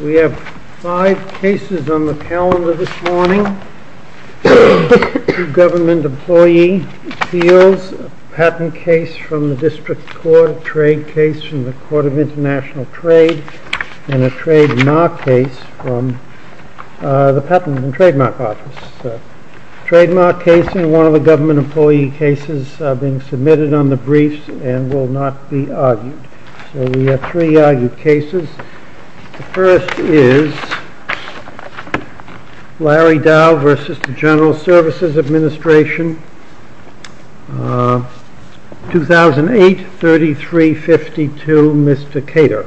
We have five cases on the calendar this morning. Government employee appeals, patent case from the district court, a trade case from the court of international trade, and a trademark case from the patent and trademark office. A trademark case and one of the government employee cases are being submitted on the briefs and will not be argued. So we have three argued cases. The first is Larry Dow versus the General Services Administration, 2008-3352, Mr. Cato.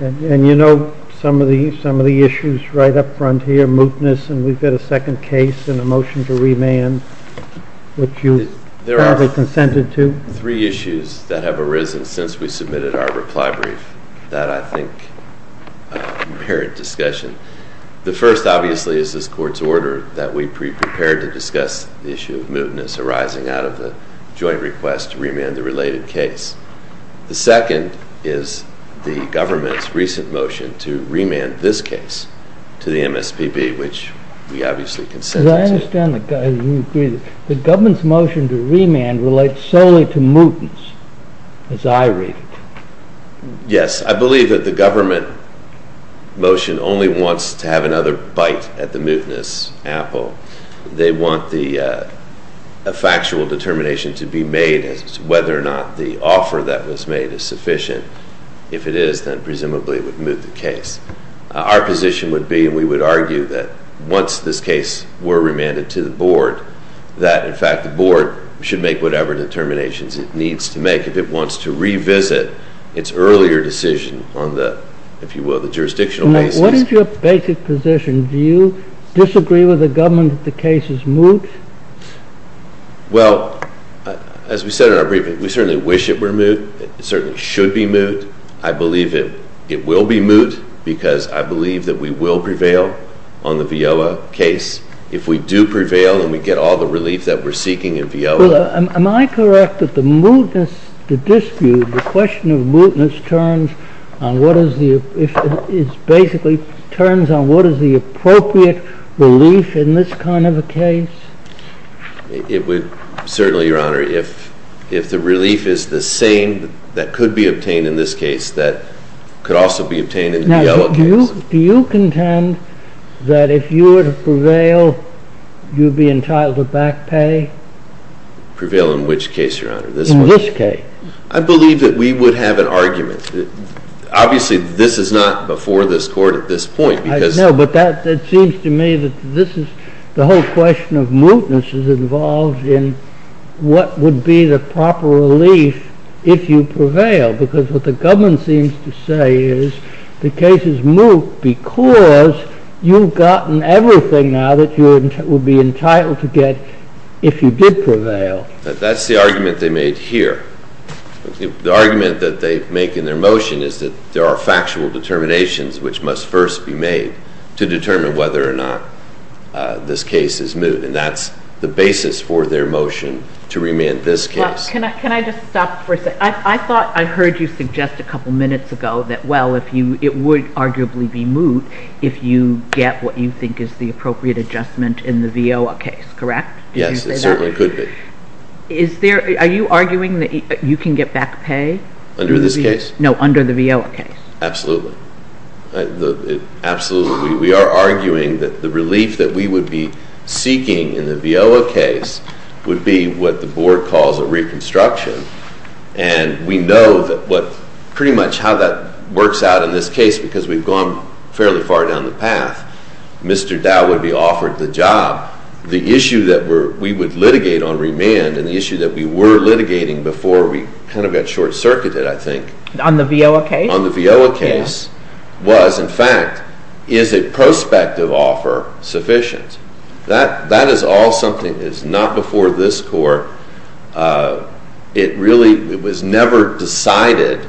And you know some of the issues right up front here, mootness, and we've got a second case and a motion to remand, which you have consented to. There are three issues that have arisen since we submitted our reply brief that I think inherit discussion. The first, obviously, is this court's order that we be prepared to discuss the issue of mootness arising out of the joint request to remand the related case. The second is the government's recent motion to remand this case to the MSPB, which we obviously consented to. I understand that the government's motion to remand relates solely to mootness, as I read it. Yes, I believe that the government motion only wants to have another bite at the mootness apple. They want a factual determination to be made as to whether or not the offer that was made is sufficient. If it is, then presumably it would moot the case. Our position would be, and we would argue, that once this case were remanded to the board, that, in fact, the board should make whatever determinations it needs to make if it wants to revisit its earlier decision on the jurisdictional basis. What is your basic position? Do you disagree with the government that the case is moot? Well, as we said in our briefing, we certainly wish it were moot. It certainly should be moot. I believe it will be moot because I believe that we will prevail on the Viola case if we do prevail and we get all the relief that we're seeking in Viola. Am I correct that the mootness dispute, the question of mootness, basically turns on what is the appropriate relief in this kind of a case? Certainly, Your Honor. If the relief is the same that could be obtained in this case, that could also be obtained in the Viola case. Do you contend that if you were to prevail, you'd be entitled to back pay? Prevail in which case, Your Honor? In this case. I believe that we would have an argument. Obviously, this is not before this Court at this point. I know, but that seems to me that this is the whole question of mootness is involved in what would be the proper relief if you prevail because what the government seems to say is the case is moot because you've gotten everything out of it. You would be entitled to get if you did prevail. That's the argument they made here. The argument that they make in their motion is that there are factual determinations which must first be made to determine whether or not this case is moot, and that's the basis for their motion to remand this case. Can I just stop for a second? I thought I heard you suggest a couple minutes ago that, well, it would arguably be moot if you get what you think is the appropriate adjustment in the Viola case, correct? Yes, it certainly could be. Are you arguing that you can get back pay? Under this case? No, under the Viola case. Absolutely. Absolutely. We are arguing that the relief that we would be seeking in the Viola case would be what the Board calls a reconstruction, and we know pretty much how that works out in this case because we've gone fairly far down the path. Mr. Dowd would be offered the job. The issue that we would litigate on remand and the issue that we were litigating before we kind of got short-circuited, I think. On the Viola case? On the Viola case was, in fact, is a prospective offer sufficient? That is all something that is not before this Court. It really was never decided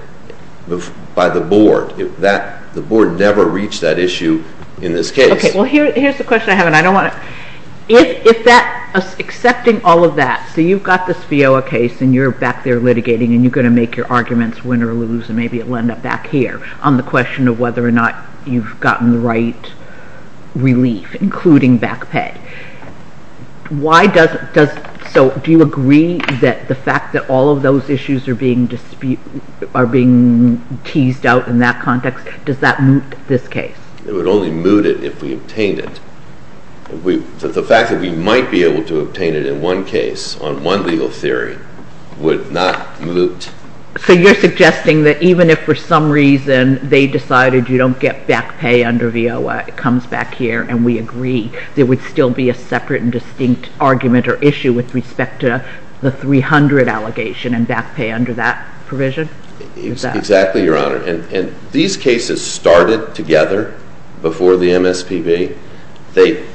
by the Board. The Board never reached that issue in this case. Okay, well, here's the question I have, and I don't want to... If that, accepting all of that, so you've got this Viola case and you're back there litigating and you're going to make your arguments win or lose, and maybe it will end up back here, on the question of whether or not you've gotten the right relief, including back pay, why does it, so do you agree that the fact that all of those issues are being teased out in that context, does that moot this case? It would only moot it if we obtained it. The fact that we might be able to obtain it in one case, on one legal theory, would not moot. So you're suggesting that even if for some reason they decided you don't get back pay under Viola, it comes back here and we agree, there would still be a separate and distinct argument or issue with respect to the 300 allegation and back pay under that provision? Exactly, Your Honor. And these cases started together before the MSPB. They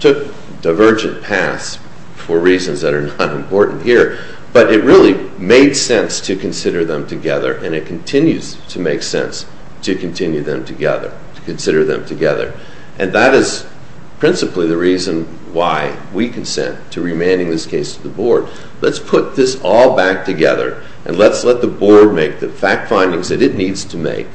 took divergent paths for reasons that are not important here, but it really made sense to consider them together and it continues to make sense to continue them together, to consider them together. And that is principally the reason why we consent to remanding this case to the Board. Let's put this all back together and let's let the Board make the fact findings that it needs to make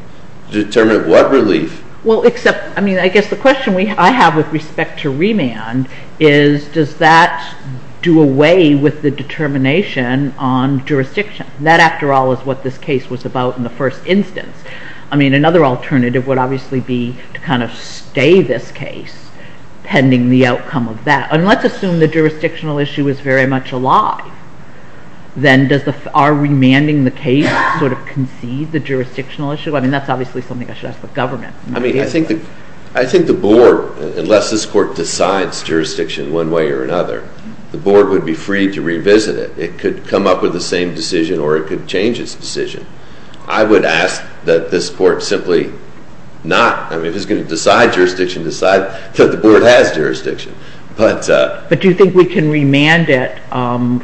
to determine what relief... Well, except, I mean, I guess the question I have with respect to remand is does that do away with the determination on jurisdiction? That, after all, is what this case was about in the first instance. I mean, another alternative would obviously be to kind of stay this case pending the outcome of that. And let's assume the jurisdictional issue is very much a lie. Then does our remanding the case sort of concede the jurisdictional issue? I mean, that's obviously something I should ask the government. I mean, I think the Board, unless this Court decides jurisdiction one way or another, the Board would be free to revisit it. It could come up with the same decision or it could change its decision. I would ask that this Court simply not, I mean, if it's going to decide jurisdiction, decide because the Board has jurisdiction. But do you think we can remand it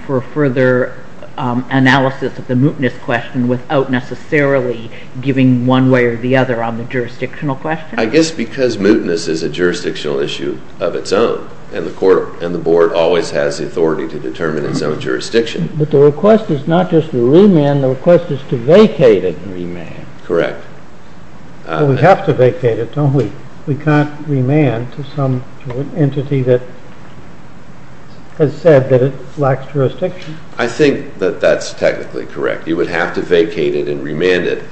for further analysis of the mootness question without necessarily giving one way or the other on the jurisdictional question? I guess because mootness is a jurisdictional issue of its own and the Court and the Board always has the authority to determine its own jurisdiction. But the request is not just to remand. The request is to vacate it and remand. Correct. We have to vacate it, don't we? We can't remand to some entity that has said that it lacks jurisdiction. I think that that's technically correct. You would have to vacate it and remand it.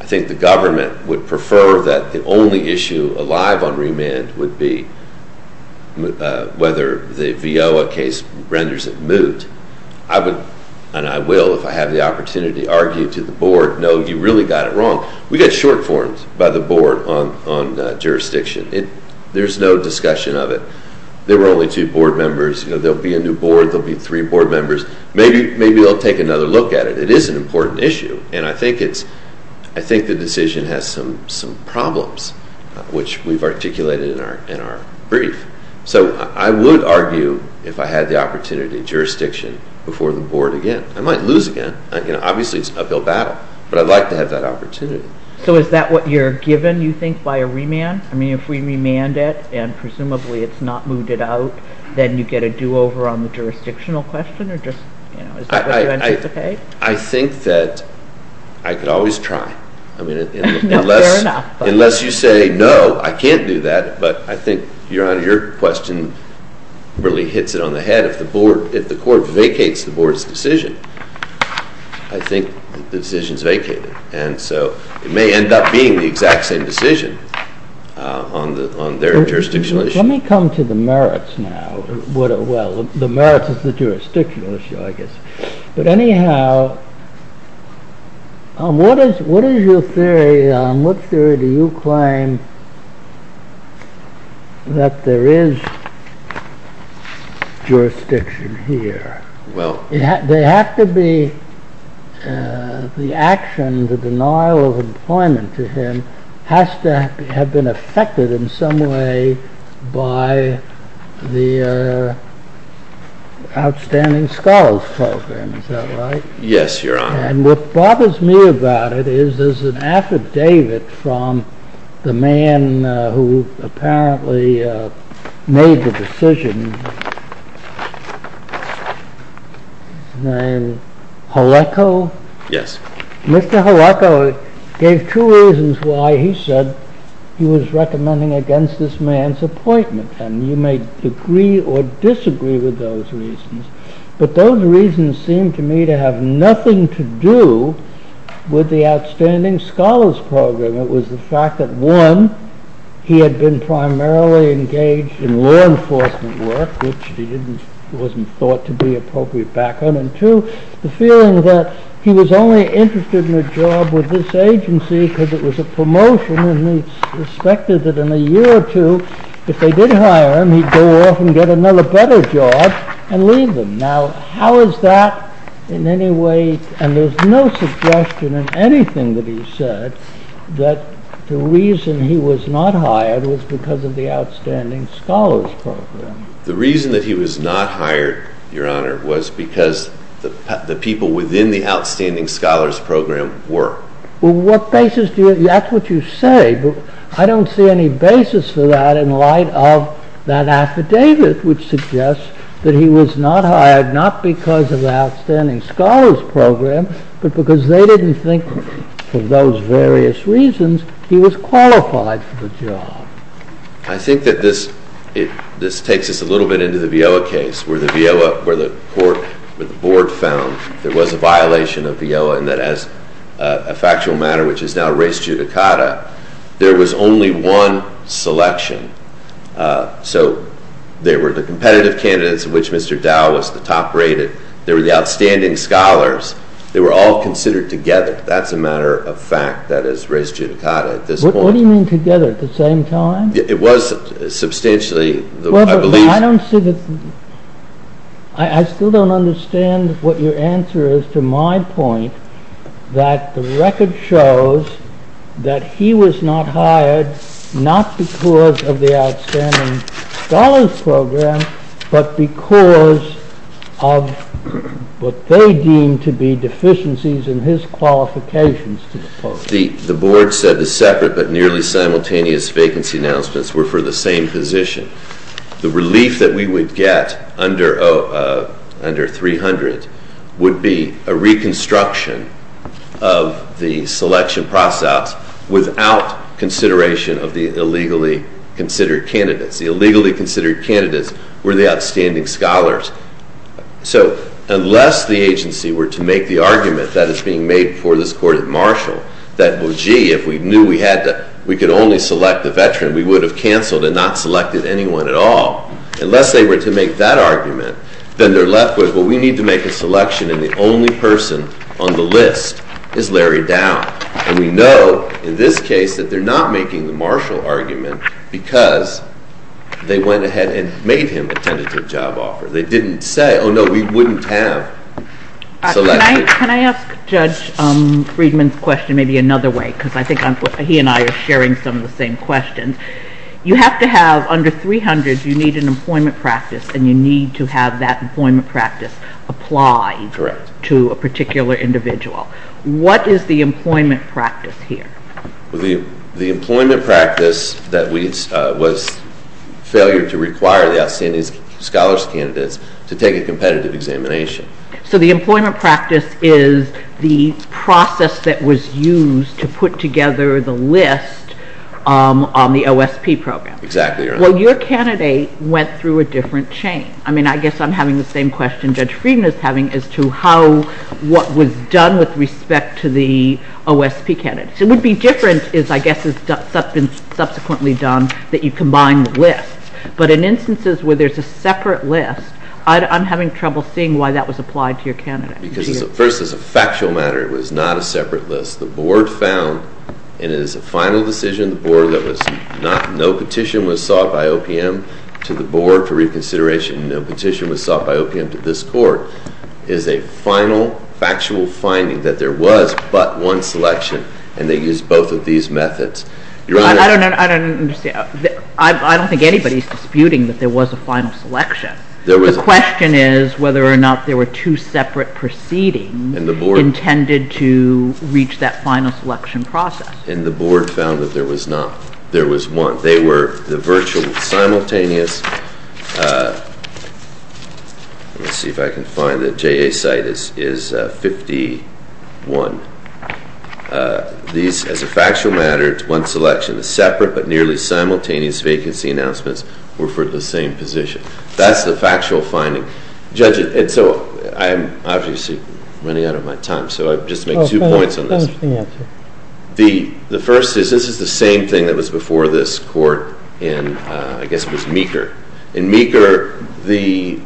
I think the government would prefer that the only issue alive on remand would be whether the Viola case renders it moot. I would, and I will if I have the opportunity, argue to the Board, no, you really got it wrong. We get short forms by the Board on jurisdiction. There's no discussion of it. There were only two Board members. There'll be a new Board. There'll be three Board members. Maybe they'll take another look at it. It is an important issue, and I think the decision has some problems, which we've articulated in our brief. So I would argue if I had the opportunity in jurisdiction before the Board again. I might lose again. Obviously, it's an uphill battle, but I'd like to have that opportunity. So is that what you're given, you think, by a remand? I mean, if we remand it and presumably it's not mooted out, then you get a do-over on the jurisdictional question? Is that what you anticipate? I think that I could always try. Fair enough. Unless you say, no, I can't do that, but I think your question really hits it on the head. If the Court vacates the Board's decision, I think the decision's vacated, and so it may end up being the exact same decision on their jurisdiction. Let me come to the merits now. Well, the merits of the jurisdictional issue, I guess. But anyhow, what is your theory? What theory do you claim that there is jurisdiction here? They have to be the action, the denial of employment, has to have been affected in some way by the Outstanding Scholars Program. Is that right? Yes, Your Honor. And what bothers me about it is there's an affidavit from the man who apparently made the decision, Jaleco? Yes. Mr. Jaleco gave two reasons why he said he was recommending against this man's appointment, and you may agree or disagree with those reasons, but those reasons seem to me to have nothing to do with the Outstanding Scholars Program. It was the fact that, one, he had been primarily engaged in law enforcement work, which wasn't thought to be appropriate background, and two, the feeling that he was only interested in a job with this agency because it was a promotion and he suspected that in a year or two, if they did hire him, he'd go off and get another better job and leave him. Now, how is that in any way, and there's no suggestion in anything that he said, that the reason he was not hired was because of the Outstanding Scholars Program? The reason that he was not hired, Your Honor, was because the people within the Outstanding Scholars Program were. Well, that's what you say, but I don't see any basis for that in light of that affidavit, which suggests that he was not hired not because of the Outstanding Scholars Program, but because they didn't think, for those various reasons, he was qualified for the job. I think that this takes us a little bit into the Viella case, where the board found there was a violation of Viella, and that as a factual matter, which is now res judicata, there was only one selection. So there were the competitive candidates, of which Mr. Dow was the top-rated. There were the outstanding scholars. They were all considered together. That's a matter of fact that is res judicata at this point. What do you mean together? At the same time? It was substantially. I still don't understand what your answer is to my point that the record shows that he was not hired not because of the Outstanding Scholars Program, but because of what they deemed to be deficiencies in his qualifications. The board said the separate but nearly simultaneous vacancy announcements were for the same position. The relief that we would get under 300 would be a reconstruction of the selection process without consideration of the illegally considered candidates. The illegally considered candidates were the outstanding scholars. So unless the agency were to make the argument that is being made before this court at Marshall that, well, gee, if we knew we could only select the veteran, we would have canceled and not selected anyone at all. Unless they were to make that argument, then they're left with, well, we need to make a selection, and the only person on the list is Larry Dow. And we know in this case that they're not making the Marshall argument because they went ahead and made him the tentative job offer. They didn't say, oh, no, we wouldn't have selected. Can I ask Judge Friedman's question maybe another way? Because I think he and I are sharing some of the same questions. You have to have under 300, you need an employment practice, and you need to have that employment practice applied to a particular individual. What is the employment practice here? The employment practice was failure to require the outstanding scholars candidates to take a competitive examination. So the employment practice is the process that was used to put together the list on the OSP program. Exactly. Well, your candidate went through a different chain. I mean, I guess I'm having the same question Judge Friedman is having as to what was done with respect to the OSP candidates. So what would be different is, I guess, is subsequently done that you combine the list. But in instances where there's a separate list, I'm having trouble seeing why that was applied to your candidate. Because the first is a factual matter. It was not a separate list. The board found in its final decision, the board that was not, no petition was sought by OPM to the board for reconsideration, no petition was sought by OPM to this court, is a final factual finding that there was but one selection, and they used both of these methods. I don't understand. I don't think anybody's disputing that there was a final selection. The question is whether or not there were two separate proceedings intended to reach that final selection process. And the board found that there was not. There was one. They were the virtual simultaneous. Let me see if I can find it. J.A. site is 51. These, as a factual matter, it's one selection. The separate but nearly simultaneous vacancy announcements were for the same position. That's the factual finding. Judge, and so I'm obviously running out of my time, so I'll just make two points on this. The first is this is the same thing that was before this court in, I guess, was Meeker. In Meeker, the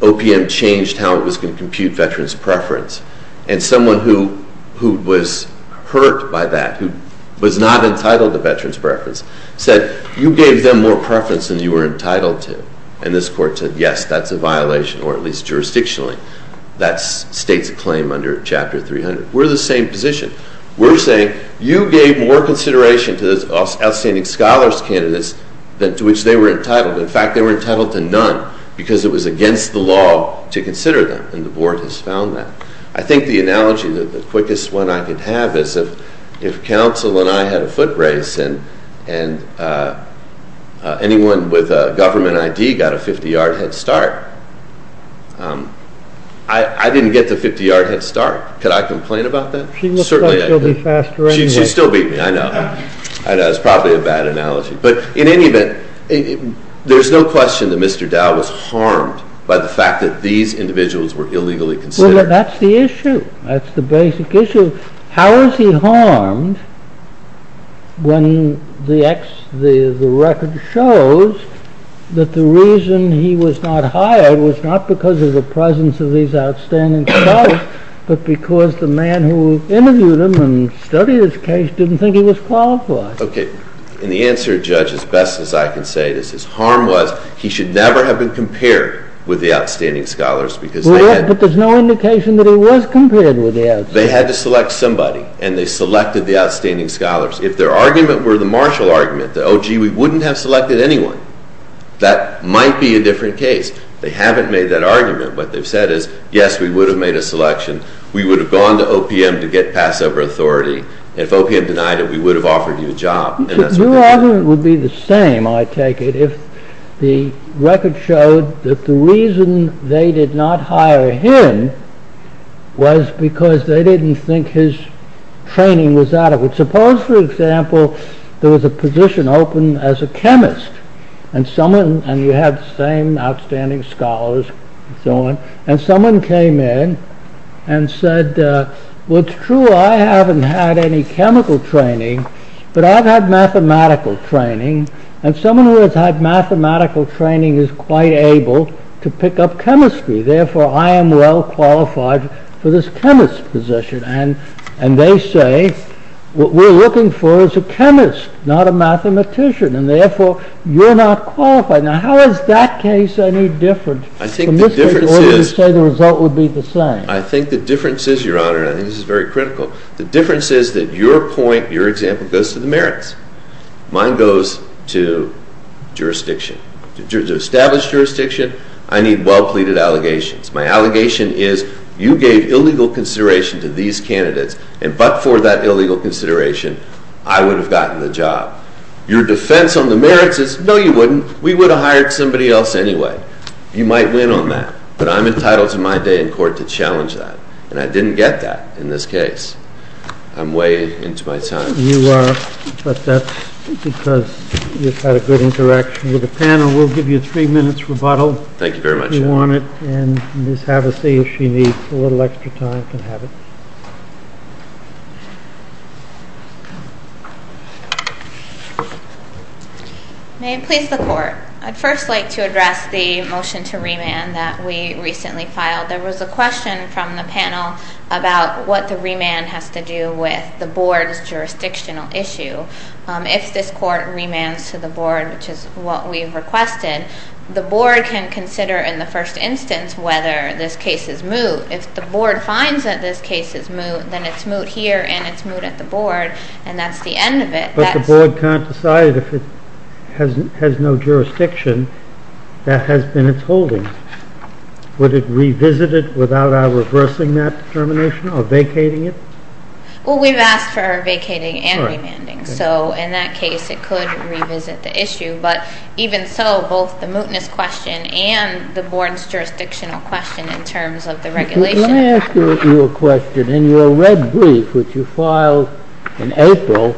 OPM changed how it was going to compute veterans' preference, and someone who was hurt by that, who was not entitled to veterans' preference, said, you gave them more preference than you were entitled to. And this court said, yes, that's a violation, or at least jurisdictionally. That's state's claim under Chapter 300. We're the same position. We're saying you gave more consideration to the outstanding scholars' candidates than to which they were entitled. In fact, they were entitled to none because it was against the law to consider them, and the board has found that. I think the analogy, the quickest one I could have, is that if counsel and I had a foot race and anyone with a government ID got a 50-yard head start, I didn't get the 50-yard head start. Could I complain about that? She looks like she'll be faster anyway. She still beat me. I know. I know. It's probably a bad analogy. But in any event, there's no question that Mr. Dowd was harmed by the fact that these individuals were illegally considered. Well, that's the issue. That's the basic issue. How is he harmed when the record shows that the reason he was not hired was not because of the presence of these outstanding scholars, but because the man who interviewed him and studied his case didn't think he was qualified? Okay. And the answer, Judge, as best as I can say, is his harm was he should never have been compared with the outstanding scholars. But there's no indication that he was compared with the outstanding scholars. They had to select somebody, and they selected the outstanding scholars. If their argument were the Marshall argument, that, oh, gee, we wouldn't have selected anyone, that might be a different case. They haven't made that argument. What they've said is, yes, we would have made a selection. We would have gone to OPM to get passover authority. If OPM denied it, we would have offered you a job. Your argument would be the same, I take it, if the record showed that the reason they did not hire him was because they didn't think his training was adequate. Suppose, for example, there was a position open as a chemist, and you had the same outstanding scholars and so on, and someone came in and said, well, it's true, I haven't had any chemical training, but I've had mathematical training, and someone who has had mathematical training is quite able to pick up chemistry. Therefore, I am well qualified for this chemist position. And they say, what we're looking for is a chemist, not a mathematician. And therefore, you're not qualified. Now, how is that case any different from this case, where you say the result would be the same? I think the difference is, Your Honor, and I think this is very critical, the difference is that your point, your example, goes to the merits. Mine goes to jurisdiction. In terms of established jurisdiction, I need well-pleaded allegations. My allegation is, you gave illegal consideration to these candidates, and but for that illegal consideration, I would have gotten the job. Your defense on the merits is, no, you wouldn't. We would have hired somebody else anyway. You might win on that. But I'm entitled to my day in court to challenge that. And I didn't get that in this case. I'm way into my time. You are, but that's because you've had a good interaction with the panel. We'll give you three minutes rebuttal, if you want it. Thank you very much. And Ms. Havisay, if she needs a little extra time, can have it. May it please the Court. I'd first like to address the motion to remand that we recently filed. There was a question from the panel about what the remand has to do with the board's jurisdictional issue. If this court remands to the board, which is what we've requested, the board can consider in the first instance whether this case is moot. If the board finds that this case is moot, then it's moot here, and it's moot at the board, and that's the end of it. But the board can't decide if it has no jurisdiction. That has been its holding. Would it revisit it without our reversing that determination or vacating it? Well, we've asked for our vacating and remanding. So in that case, it could revisit the issue. But even so, both the mootness question and the board's jurisdictional question in terms of the regulation. May I ask you a question? In your red brief, which you filed in April,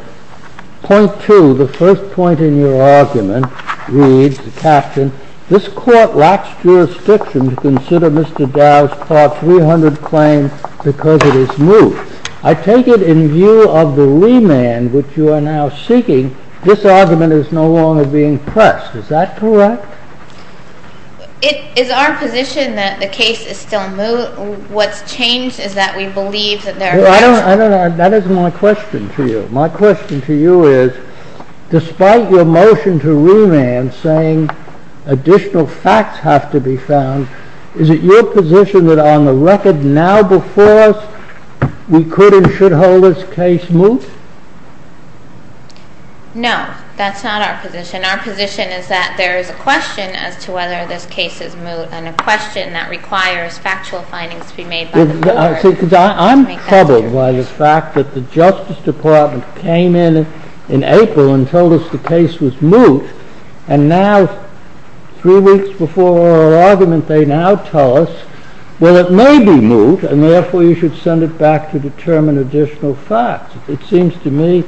point two, the first point in your argument, reads, Captain, this court lacks jurisdiction to consider Mr. Dow's Part 300 claim because it is moot. I take it in view of the remand that you are now seeking, this argument is no longer being pressed. Is that correct? Is our position that the case is still moot? What's changed is that we believe that there are records. That is my question to you. My question to you is, despite your motion to remand saying additional facts have to be found, is it your position that on the record now before us, we could and should hold this case moot? No, that's not our position. Our position is that there is a question as to whether this case is moot and a question that requires factual findings to be made by the board. I'm troubled by the fact that the Justice Department came in in April and told us the case was moot, and now three weeks before our argument they now tell us that it may be moot and therefore you should send it back to determine additional facts. It seems to me,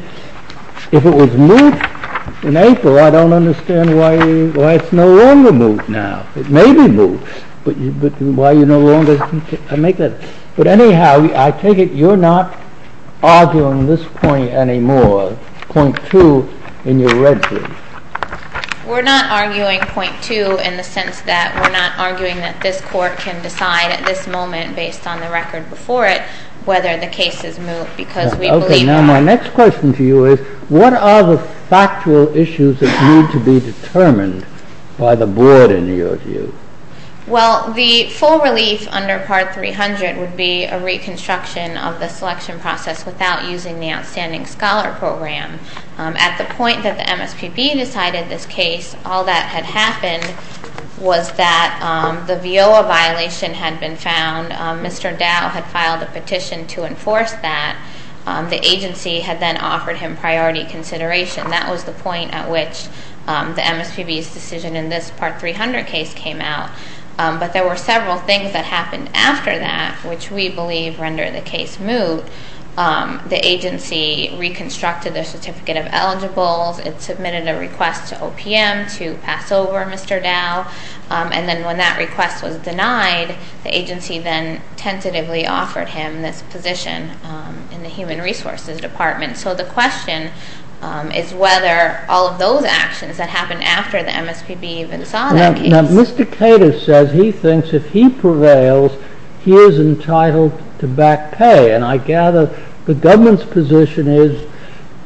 if it was moot in April, I don't understand why it's no longer moot now. It may be moot, but why you no longer make that. But anyhow, I take it you're not arguing this point anymore, point two in your red group. We're not arguing point two in the sense that we're not arguing that this court can decide at this moment based on the record before it whether the case is moot Okay, now my next question to you is, what are the factual issues that need to be determined by the board in your view? Well, the full relief under Part 300 would be a reconstruction of the selection process without using the Outstanding Scholar Program. At the point that the MSQB decided this case, all that had happened was that the VIOA violation had been found. And Mr. Dow had filed a petition to enforce that. The agency had then offered him priority consideration. That was the point at which the MSQB's decision in this Part 300 case came out. But there were several things that happened after that, which we believe render the case moot. The agency reconstructed the certificate of eligibles. It submitted a request to OPM to pass over Mr. Dow. And then when that request was denied, the agency then tentatively offered him this position in the Human Resources Department. So the question is whether all of those actions that happened after the MSQB even saw that case. Now, Mr. Cato says he thinks if he prevails, he is entitled to back pay. And I gather the government's position is,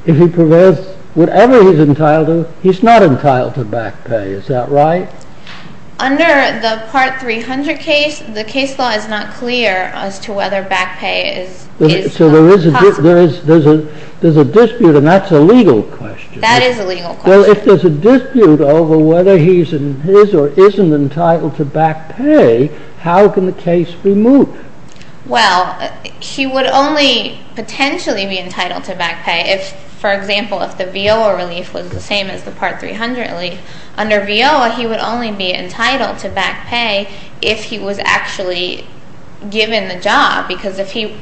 if he prevails, whatever he's entitled to, he's not entitled to back pay. Is that right? Under the Part 300 case, the case law is not clear as to whether back pay is a part. So there's a dispute, and that's a legal question. That is a legal question. If there's a dispute over whether he's in his or isn't entitled to back pay, how can the case be moot? Well, he would only potentially be entitled to back pay if, for example, if the VIOA release was the same as the Part 300 release. Under VIOA, he would only be entitled to back pay if he was actually given the job. Because the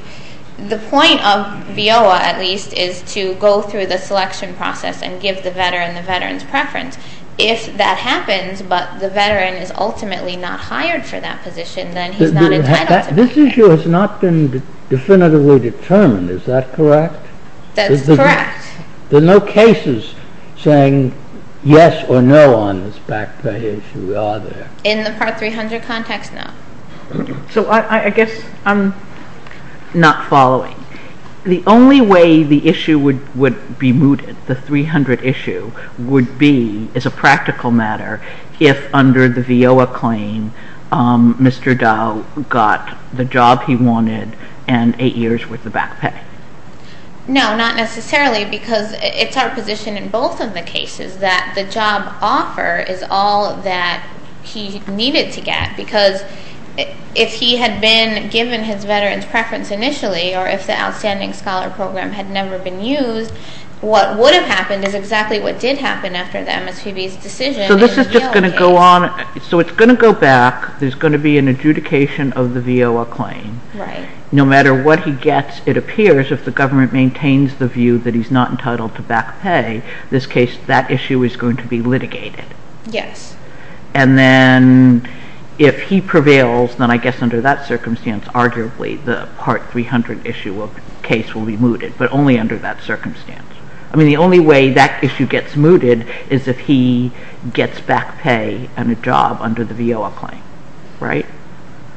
point of VIOA, at least, is to go through the selection process and give the veteran the veteran's preference. If that happens, but the veteran is ultimately not hired for that position, then he's not entitled to back pay. This issue has not been definitively determined. Is that correct? That's correct. There are no cases saying yes or no on this back pay issue, are there? In the Part 300 context, no. So I guess I'm not following. The only way the issue would be mooted, the 300 issue, would be, as a practical matter, if under the VIOA claim, Mr. Dow got the job he wanted and eight years' worth of back pay. No, not necessarily, because it's our position in both of the cases that the job offer is all that he needed to get. Because if he had been given his veteran's preference initially or if the Outstanding Scholar Program had never been used, what would have happened is exactly what did happen after that. So this is just going to go on. So it's going to go back. There's going to be an adjudication of the VIOA claim. Right. No matter what he gets, it appears if the government maintains the view that he's not entitled to back pay, in this case, that issue is going to be litigated. Yes. And then if he prevails, then I guess under that circumstance, arguably the Part 300 issue case will be mooted, but only under that circumstance. I mean, the only way that issue gets mooted is if he gets back pay and a job under the VIOA claim, right?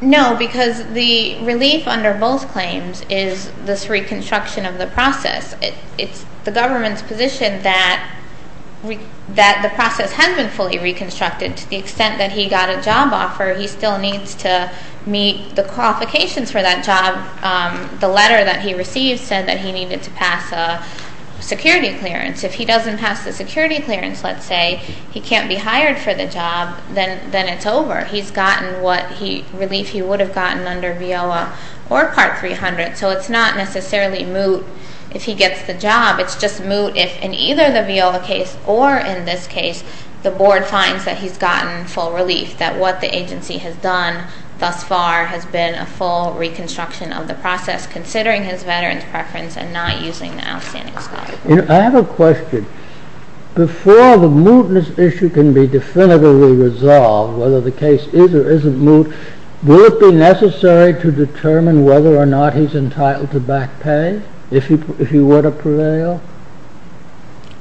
No, because the relief under both claims is this reconstruction of the process. It's the government's position that the process hasn't fully reconstructed. To the extent that he got a job offer, he still needs to meet the qualifications for that job. The letter that he received said that he needed to pass a security clearance. If he doesn't pass a security clearance, let's say, he can't be hired for the job, then it's over. He's gotten what relief he would have gotten under VIOA or Part 300, so it's not necessarily moot if he gets the job. It's just moot if, in either the VIOA case or in this case, the board finds that he's gotten full relief, that what the agency has done thus far has been a full reconstruction of the process, considering his veterans' preference and not using the outstanding clause. I have a question. Before the mootness issue can be definitively resolved, whether the case is or isn't moot, would it be necessary to determine whether or not he's entitled to back pay if he were to prevail?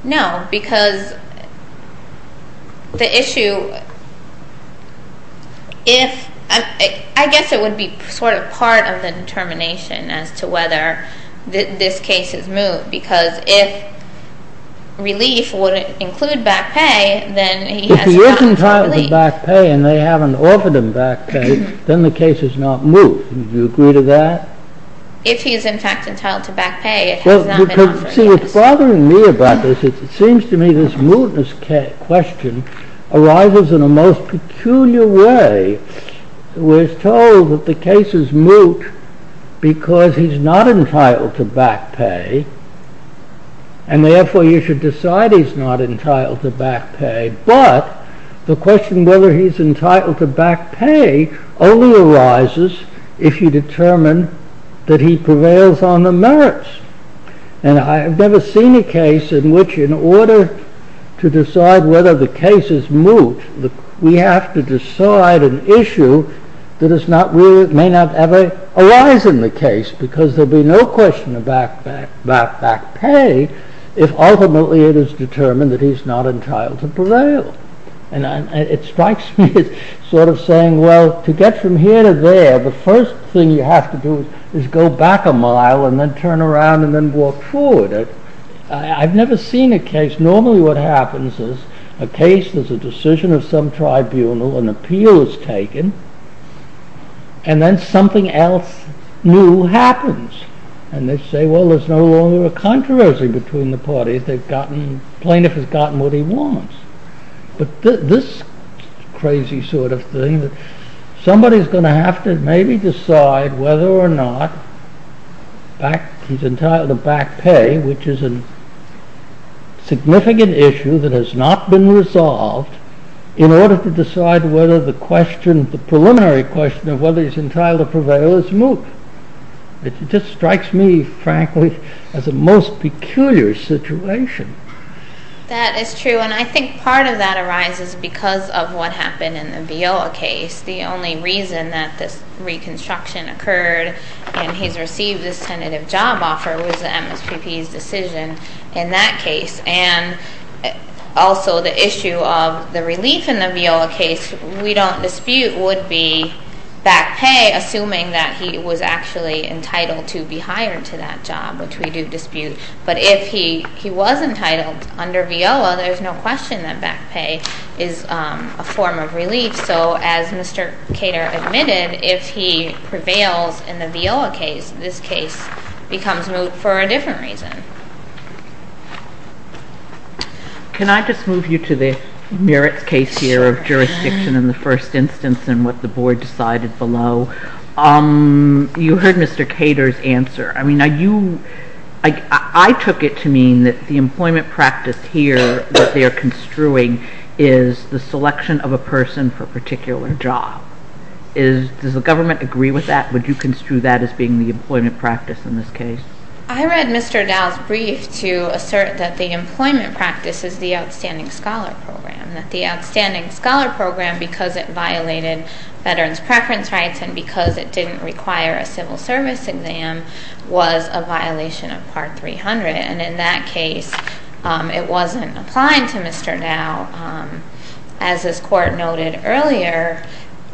No, because the issue is— I guess it would be sort of part of the determination as to whether this case is moot, because if relief would include back pay, then he has— If he is entitled to back pay and they haven't offered him back pay, then the case is not moot. Do you agree to that? If he is, in fact, entitled to back pay, it has not been offered. See, it's bothering me about this. It seems to me this mootness question arises in a most peculiar way. We're told that the case is moot because he's not entitled to back pay, and therefore you should decide he's not entitled to back pay, but the question of whether he's entitled to back pay only arises if you determine that he prevails on the merits. And I have never seen a case in which, in order to decide whether the case is moot, we have to decide an issue that may not ever arise in the case, because there'd be no question about back pay if ultimately it is determined that he's not entitled to prevail. And it strikes me as sort of saying, well, to get from here to there, the first thing you have to do is go back a mile and then turn around and then walk forward. I've never seen a case— a case is a decision of some tribunal, an appeal is taken, and then something else new happens. And they say, well, there's no longer a controversy between the parties. The plaintiff has gotten what he wants. But this crazy sort of thing, somebody's going to have to maybe decide whether or not he's entitled to back pay, which is a significant issue that has not been resolved, in order to decide whether the preliminary question of whether he's entitled to prevail is moot. It just strikes me, frankly, as a most peculiar situation. That is true, and I think part of that arises because of what happened in the Deola case. The only reason that this reconstruction occurred and he's received this tentative job offer was the MSPP's decision in that case. And also the issue of the relief in the Deola case, we don't dispute, would be back pay, assuming that he was actually entitled to be hired to that job, which we do dispute. But if he was entitled under Deola, there's no question that back pay is a form of relief. And also, as Mr. Cater admitted, if he prevails in the Deola case, this case becomes moot for a different reason. Can I just move you to this merit case here of jurisdiction in the first instance and what the board decided below? You heard Mr. Cater's answer. I took it to mean that the employment practice here that they are construing is the selection of a person for a particular job. Does the government agree with that? Would you construe that as being the employment practice in this case? I read Mr. Dowd's brief to assert that the employment practice is the Outstanding Scholar Program, that the Outstanding Scholar Program, because it violated veterans' preference rights and because it didn't require a civil service exam, was a violation of Part 300. And in that case, it wasn't applying to Mr. Dowd. As this court noted earlier,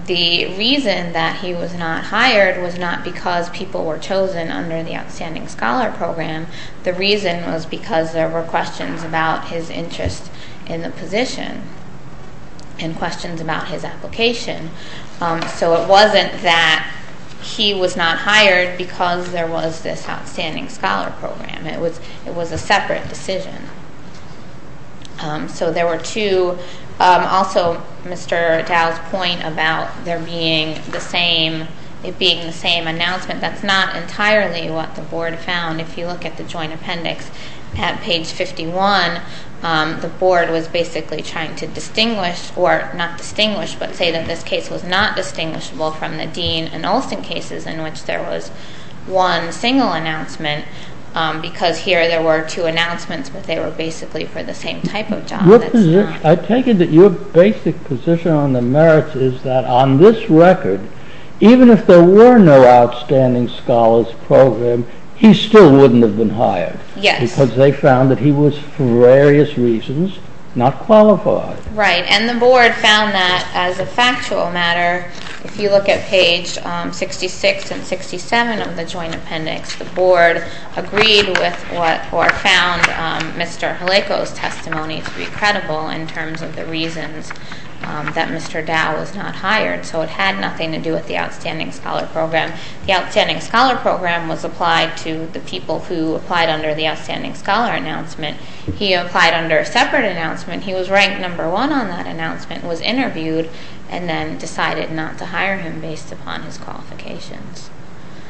the reason that he was not hired was not because people were chosen under the Outstanding Scholar Program. The reason was because there were questions about his interest in the position and questions about his application. So it wasn't that he was not hired because there was this Outstanding Scholar Program. It was a separate decision. So there were two. Also, Mr. Dowd's point about there being the same announcement, that's not entirely what the board found. If you look at the joint appendix at page 51, the board was basically trying to distinguish, or not distinguish, but say that this case was not distinguishable from the Dean and Olson cases in which there was one single announcement because here there were two announcements, but they were basically for the same type of job. I take it that your basic position on the merits is that on this record, even if there were no Outstanding Scholars Program, he still wouldn't have been hired. Yes. Because they found that he was, for various reasons, not qualified. Right. And the board found that, as a factual matter, if you look at page 66 and 67 of the joint appendix, the board agreed with or found Mr. Jaleco's testimony to be credible in terms of the reason that Mr. Dowd was not hired. So it had nothing to do with the Outstanding Scholar Program. The Outstanding Scholar Program was applied to the people who applied under the Outstanding Scholar announcement. He applied under a separate announcement. He was ranked number one on that announcement, was interviewed, and then decided not to hire him based upon his qualifications.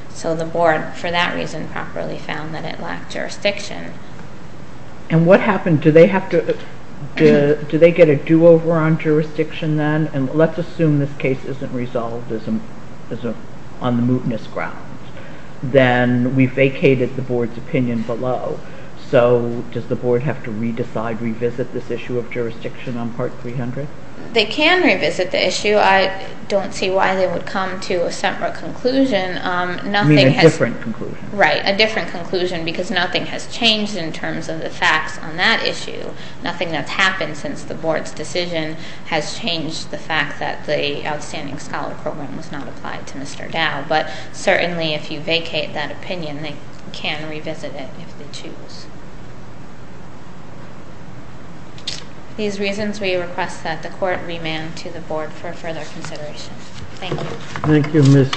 So the board, for that reason, properly found that it lacked jurisdiction. And what happened? Do they get a do-over on jurisdiction then? And let's assume this case isn't resolved on the mootness grounds. Then we vacated the board's opinion below. So does the board have to re-decide, revisit this issue of jurisdiction on Part 300? They can revisit the issue. I don't see why they would come to a separate conclusion A different conclusion. Right, a different conclusion because nothing has changed in terms of the facts on that issue. Nothing has happened since the board's decision has changed the fact that the Outstanding Scholar Program was not applied to Mr. Dowd. But certainly, if you vacate that opinion, they can revisit it if they choose. These reasons, we request that the court remand to the board for further consideration. Thank you. Thank you, Ms.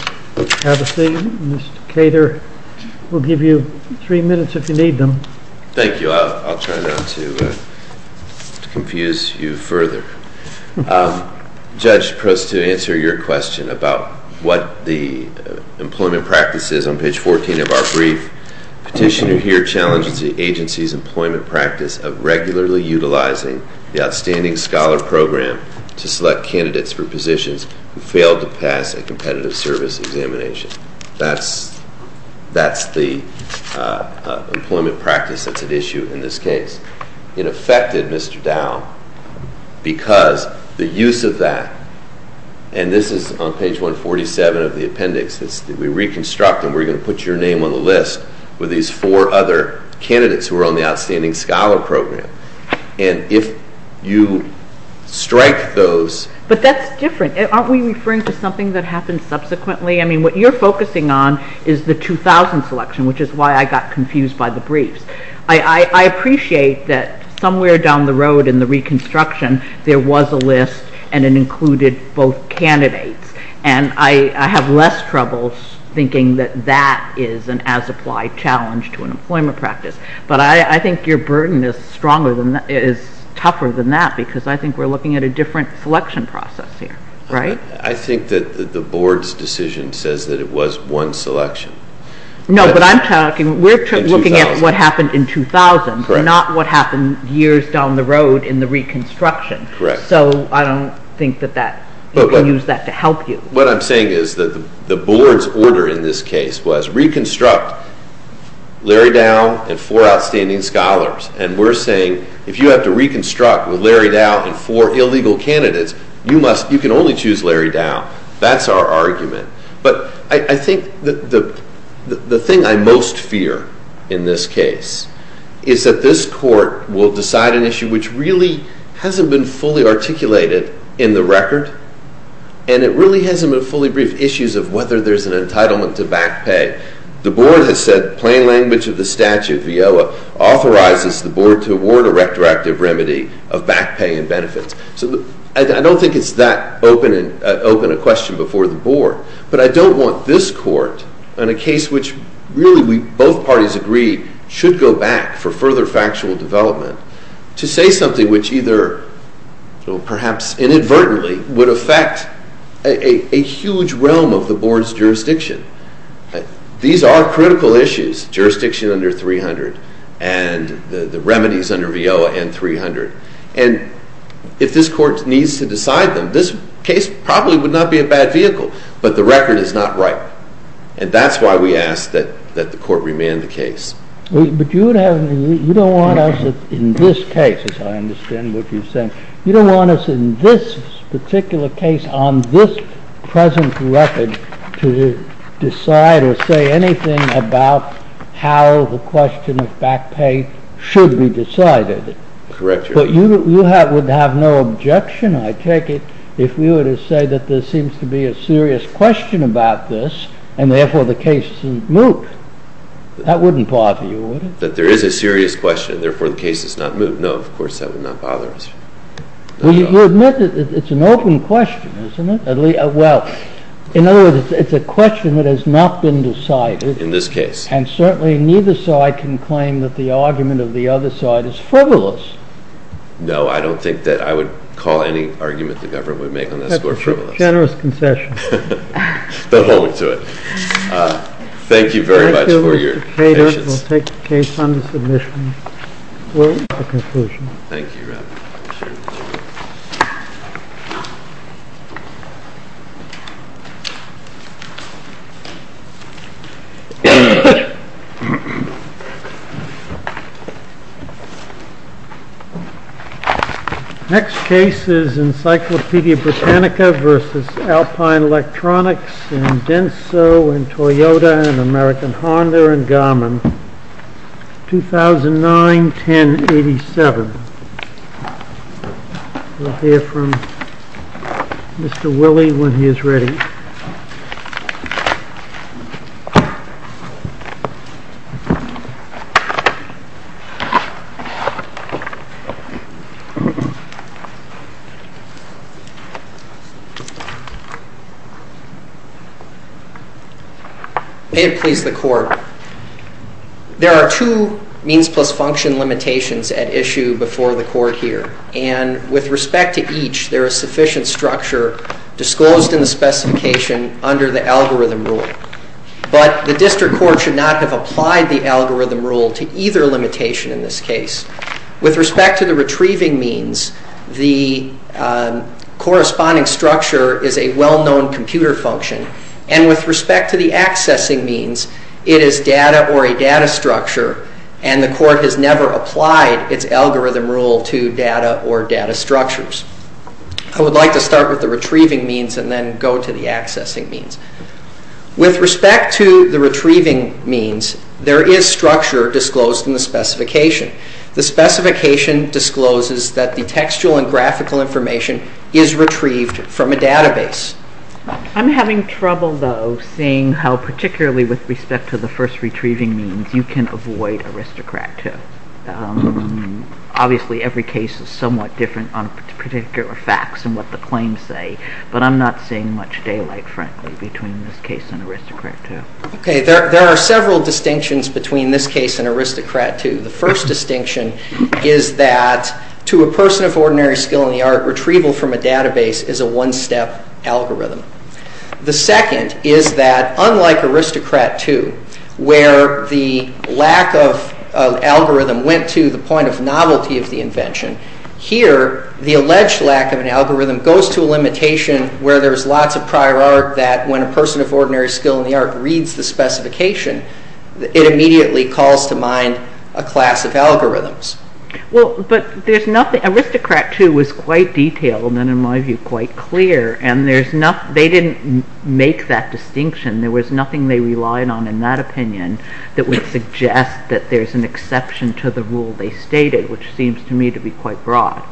Hatterson. Mr. Cater, we'll give you three minutes if you need them. Thank you. I'll try not to confuse you further. Judge, just to answer your question about what the employment practice is on page 14 of our brief, petitioner here challenged the agency's employment practice of regularly utilizing the Outstanding Scholar Program to select candidates for positions who failed to pass a competitive service examination. That's the employment practice that's at issue in this case. It affected Mr. Dowd because the use of that, and this is on page 147 of the appendix, we reconstruct and we're going to put your name on the list with these four other candidates who are on the Outstanding Scholar Program. And if you strike those... But that's different. Aren't we referring to something that happened subsequently? I mean, what you're focusing on is the 2000 selection, which is why I got confused by the brief. I appreciate that somewhere down the road in the reconstruction, there was a list and it included both candidates. And I have less troubles thinking that that is an as-applied challenge to an employment practice. But I think your burden is tougher than that because I think we're looking at a different selection process here, right? I think that the board's decision says that it was one selection. No, but I'm talking, we're looking at what happened in 2000 and not what happened years down the road in the reconstruction. So I don't think that we can use that to help you. What I'm saying is that the board's order in this case was reconstruct Larry Dow and four outstanding scholars. And we're saying if you have to reconstruct with Larry Dow and four illegal candidates, you can only choose Larry Dow. That's our argument. But I think the thing I most fear in this case is that this court will decide an issue which really hasn't been fully articulated in the record and it really hasn't been fully briefed, the issues of whether there's an entitlement to back pay. The board has said plain language of the statute, the OLA, authorizes the board to award a retroactive remedy of back pay and benefits. So I don't think it's that open a question before the board. But I don't want this court, in a case which really both parties agreed should go back for further factual development, to say something which either, perhaps inadvertently, would affect a huge realm of the board's jurisdiction. These are critical issues. Jurisdiction under 300 and the remedies under VO and 300. And if this court needs to decide them, this case probably would not be a bad vehicle. But the record is not right. And that's why we ask that the court remand the case. But you don't want us in this case, as I understand what you're saying, you don't want us in this particular case, on this present record, to decide or say anything about how the question of back pay should be decided. But you would have no objection, I take it, if we were to say that there seems to be a serious question about this, and therefore the case is moot. That wouldn't bother you, would it? That there is a serious question, and therefore the case is not moot. No, of course that would not bother us. You admit that it's an open question, isn't it? Well, in other words, it's a question that has not been decided. In this case. And certainly neither side can claim that the argument of the other side is frivolous. No, I don't think that I would call any argument the government would make on that score frivolous. That's a generous concession. But hold it to it. Thank you very much for your patience. Thank you, Mr. Cato. We'll take the case on the submission. We'll wait for conclusions. Thank you, Robert. Next case is Encyclopedia Britannica versus Alpine Electronics and Denso and Toyota and American Honda and Garmin 2009-10-87 We'll hear from Mr. Willie when he is ready. This is the court. There are two means plus function limitations at issue before the court here. And with respect to each, there is sufficient structure disclosed in the specification under the algorithm rule. But the district court should not have applied the algorithm rule to either limitation in this case. With respect to the retrieving means, the corresponding structure is a well-known computer function. And with respect to the accessing means, it is data or a data structure, and the court has never applied its algorithm rule to data or data structures. I would like to start with the retrieving means and then go to the accessing means. With respect to the retrieving means, there is structure disclosed in the specification. The specification discloses that the textual and graphical information is retrieved from a database. I'm having trouble, though, seeing how particularly with respect to the first retrieving means you can avoid aristocrat 2. Obviously, every case is somewhat different on particular facts and what the claims say. But I'm not seeing much daylight, frankly, between this case and aristocrat 2. There are several distinctions between this case and aristocrat 2. The first distinction is that to a person of ordinary skill in the art, retrieval from a database is a one-step algorithm. The second is that, unlike aristocrat 2, where the lack of algorithm went to the point of novelty of the invention, here, the alleged lack of an algorithm goes to a limitation where there's lots of prior art that when a person of ordinary skill in the art reads the specification, it immediately calls to mind a class of algorithms. But aristocrat 2 was quite detailed and, in my view, quite clear. They didn't make that distinction. There was nothing they relied on in that opinion that would suggest that there's an exception to the rule they stated, which seems to me to be quite broad.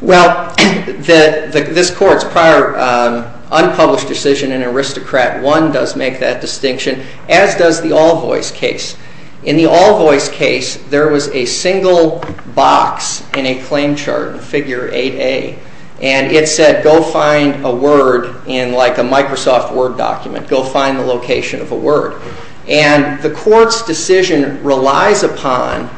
Well, this court's prior unpublished decision in aristocrat 1 does make that distinction, as does the Allboys case. In the Allboys case, there was a single box in a claim chart, figure 8A, and it said, go find a word in, like, a Microsoft Word document. Go find the location of a word. And the court's decision relies upon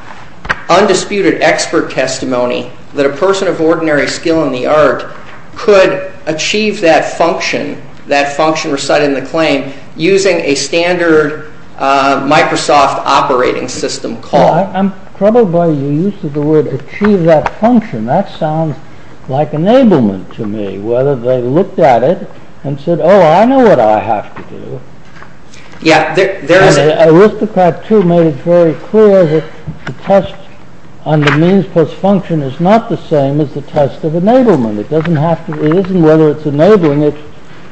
undisputed expert testimony that a person of ordinary skill in the art could achieve that function, that function reciting the claim, using a standard Microsoft operating system call. I'm troubled by the use of the word achieve that function. That sounds like enablement to me, whether they looked at it and said, oh, I know what I have to do. Yeah, there it is. Aristocrat 2 made it very clear that the test on the means plus function is not the same as the test of enablement. It doesn't have to, it isn't whether it's enabling, it's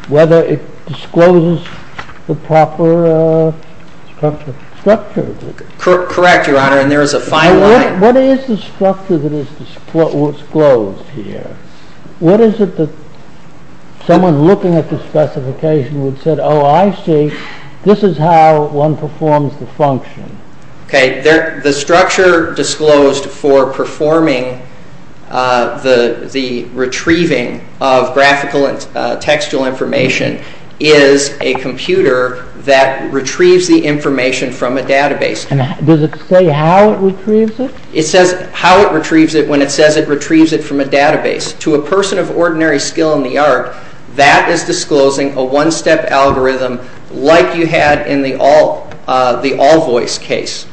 whether it discloses the proper structure. Correct, Your Honor, and there is a fine line. What is the structure that is disclosed here? What is it that someone looking at the specification would say, oh, I see, this is how one performs the function. Okay, the structure disclosed for performing the retrieving of graphical and textual information is a computer that retrieves the information from a database. Does it say how it retrieves it? It says how it retrieves it when it says it retrieves it from a database. To a person of ordinary skill in the art, that is disclosing a one-step algorithm like you had in the all voice case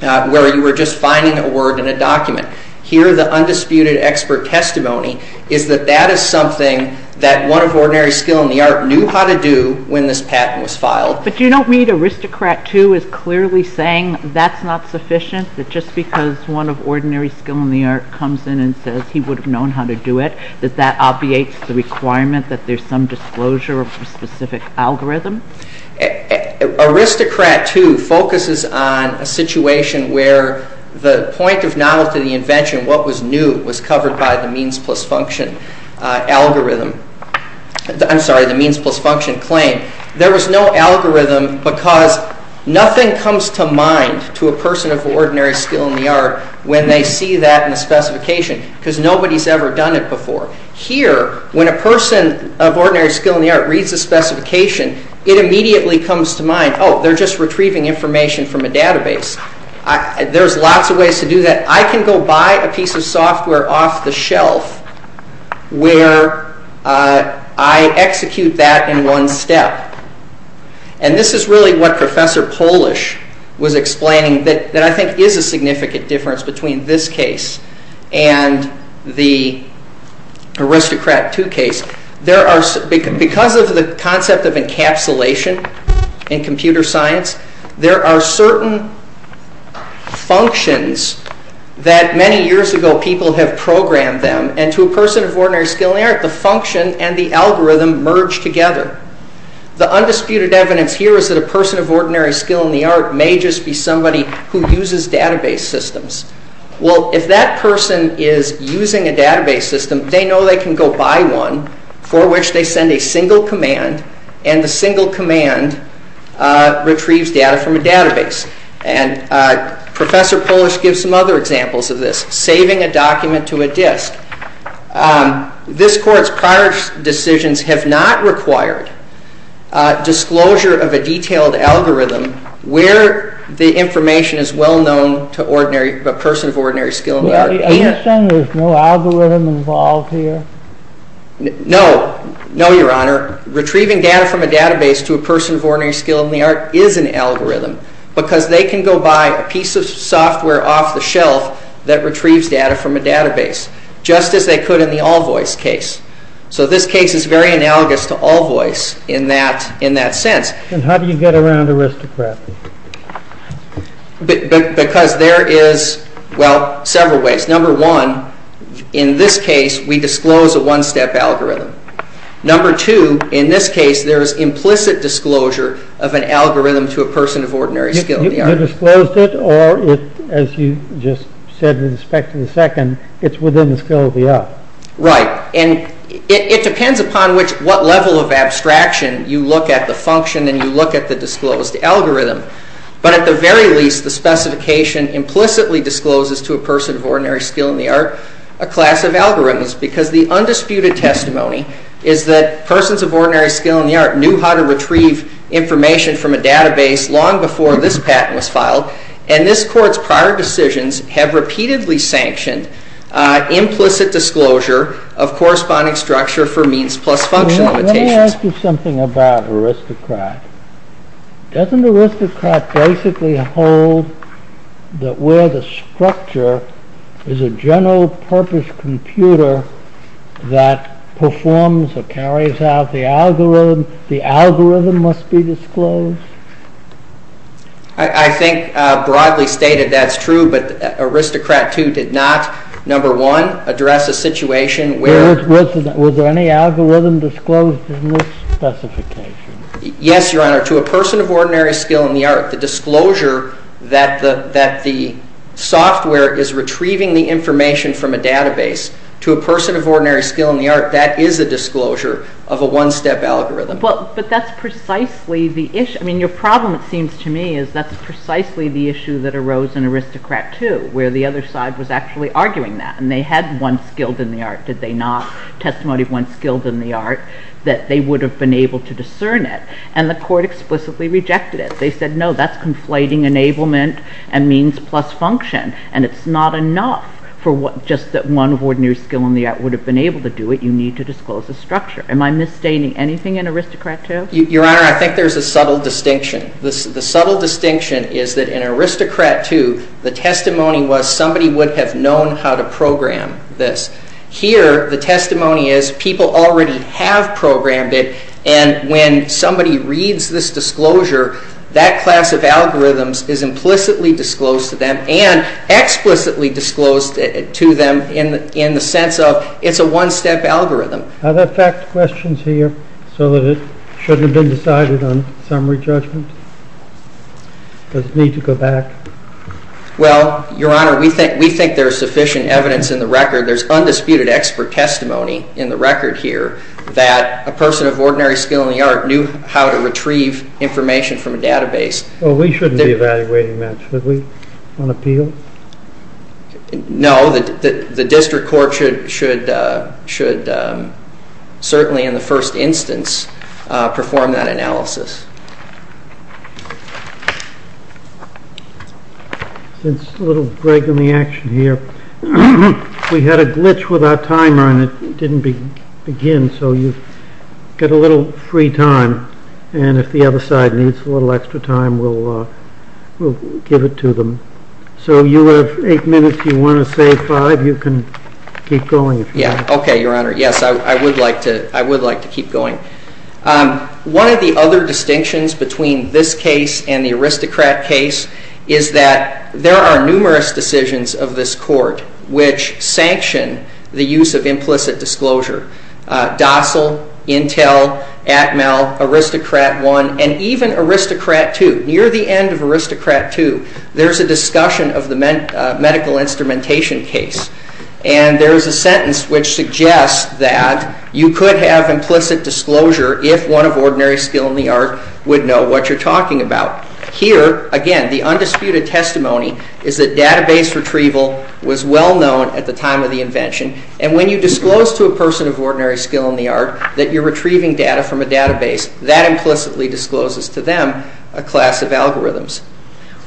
where you were just finding a word in a document. Here, the undisputed expert testimony is that that is something that one of ordinary skill in the art knew how to do when this patent was filed. But you don't mean Aristocrat 2 is clearly saying that's not sufficient, that just because one of ordinary skill in the art comes in and says he would have known how to do it, that that obviates the requirement that there's some disclosure of a specific algorithm? Aristocrat 2 focuses on a situation where the point of knowledge of the invention, what was new, was covered by the means plus function algorithm. I'm sorry, the means plus function claim. There was no algorithm because nothing comes to mind to a person of ordinary skill in the art when they see that in the specification because nobody's ever done it before. Here, when a person of ordinary skill in the art reads the specification, it immediately comes to mind, oh, they're just retrieving information from a database. There's lots of ways to do that. I can go buy a piece of software off the shelf where I execute that in one step. And this is really what Professor Polish was explaining that I think is a significant difference between this case and the Aristocrat 2 case. Because of the concept of encapsulation in computer science, there are certain functions that many years ago people have programmed them, and to a person of ordinary skill in the art, the function and the algorithm merge together. The undisputed evidence here is that a person of ordinary skill in the art may just be somebody who uses database systems. Well, if that person is using a database system, they know they can go buy one for which they send a single command, and the single command retrieves data from a database. And Professor Polish gives some other examples of this, saving a document to a disk. This Court's prior decisions have not required disclosure of a detailed algorithm where the information is well known to a person of ordinary skill in the art. Are you saying there's no algorithm involved here? No. No, Your Honor. Retrieving data from a database to a person of ordinary skill in the art is an algorithm because they can go buy a piece of software off the shelf that retrieves data from a database, just as they could in the Allboys case. So this case is very analogous to Allboys in that sense. And how do you get around Aristocrat? Because there is, well, several ways. Number one, in this case, we disclose a one-step algorithm. Number two, in this case, there's implicit disclosure of an algorithm to a person of ordinary skill in the art. You disclosed it, or, as you just said, in respect to the second, it's within the skill of the art. Right. And it depends upon what level of abstraction you look at the function and you look at the disclosed algorithm. But at the very least, the specification implicitly discloses to a person of ordinary skill in the art a class of algorithms because the undisputed testimony is that persons of ordinary skill in the art knew how to retrieve information from a database long before this patent was filed, and this court's prior decisions have repeatedly sanctioned implicit disclosure of corresponding structure for means plus function limitations. Let me ask you something about Aristocrat. Doesn't Aristocrat basically hold that where the structure is a general-purpose computer that performs or carries out the algorithm, the algorithm must be disclosed? I think broadly stated, that's true, but Aristocrat, too, did not, number one, address the situation where... Was there any algorithm disclosed in this specification? Yes, Your Honor. To a person of ordinary skill in the art, the disclosure that the software is retrieving the information from a database to a person of ordinary skill in the art, that is a disclosure of a one-step algorithm. But that's precisely the issue. I mean, your problem, it seems to me, is that's precisely the issue that arose in Aristocrat, too, where the other side was actually arguing that, and they had once skilled in the art, did they not? Testimony once skilled in the art, that they would have been able to discern it, and the court explicitly rejected it. They said, no, that's conflating enablement and means plus function, and it's not enough for just that one of ordinary skill in the art would have been able to do it. You need to disclose the structure. Am I misstating anything in Aristocrat, too? Your Honor, I think there's a subtle distinction. The subtle distinction is that in Aristocrat, too, the testimony was somebody would have known how to program this. Here, the testimony is people already have programmed it, and when somebody reads this disclosure, that class of algorithms is implicitly disclosed to them and explicitly disclosed to them in the sense of it's a one-step algorithm. Are there fact questions here, so that it shouldn't have been decided on summary judgment? Does it need to go back? Well, Your Honor, we think there's sufficient evidence in the record. There's undisputed expert testimony in the record here that a person of ordinary skill in the art knew how to retrieve information from a database. Well, we shouldn't be evaluating that, should we, on appeal? No, the district court should certainly, in the first instance, perform that analysis. Just a little break in the action here. We had a glitch with our timer, and it didn't begin, so you get a little free time, and if the other side needs a little extra time, we'll give it to them. So you have eight minutes. If you want to save five, you can keep going. Okay, Your Honor. Yes, I would like to keep going. One of the other distinctions between this case and the Aristocrat case is that there are numerous decisions of this court which sanction the use of implicit disclosure. Dossal, Intel, Atmel, Aristocrat I, and even Aristocrat II. Near the end of Aristocrat II, there's a discussion of the medical instrumentation case, and there's a sentence which suggests that you could have implicit disclosure if one of ordinary skill in the art would know what you're talking about. Here, again, the undisputed testimony is that database retrieval was well-known at the time of the invention, and when you disclose to a person of ordinary skill in the art that you're retrieving data from a database, that implicitly discloses to them a class of algorithms.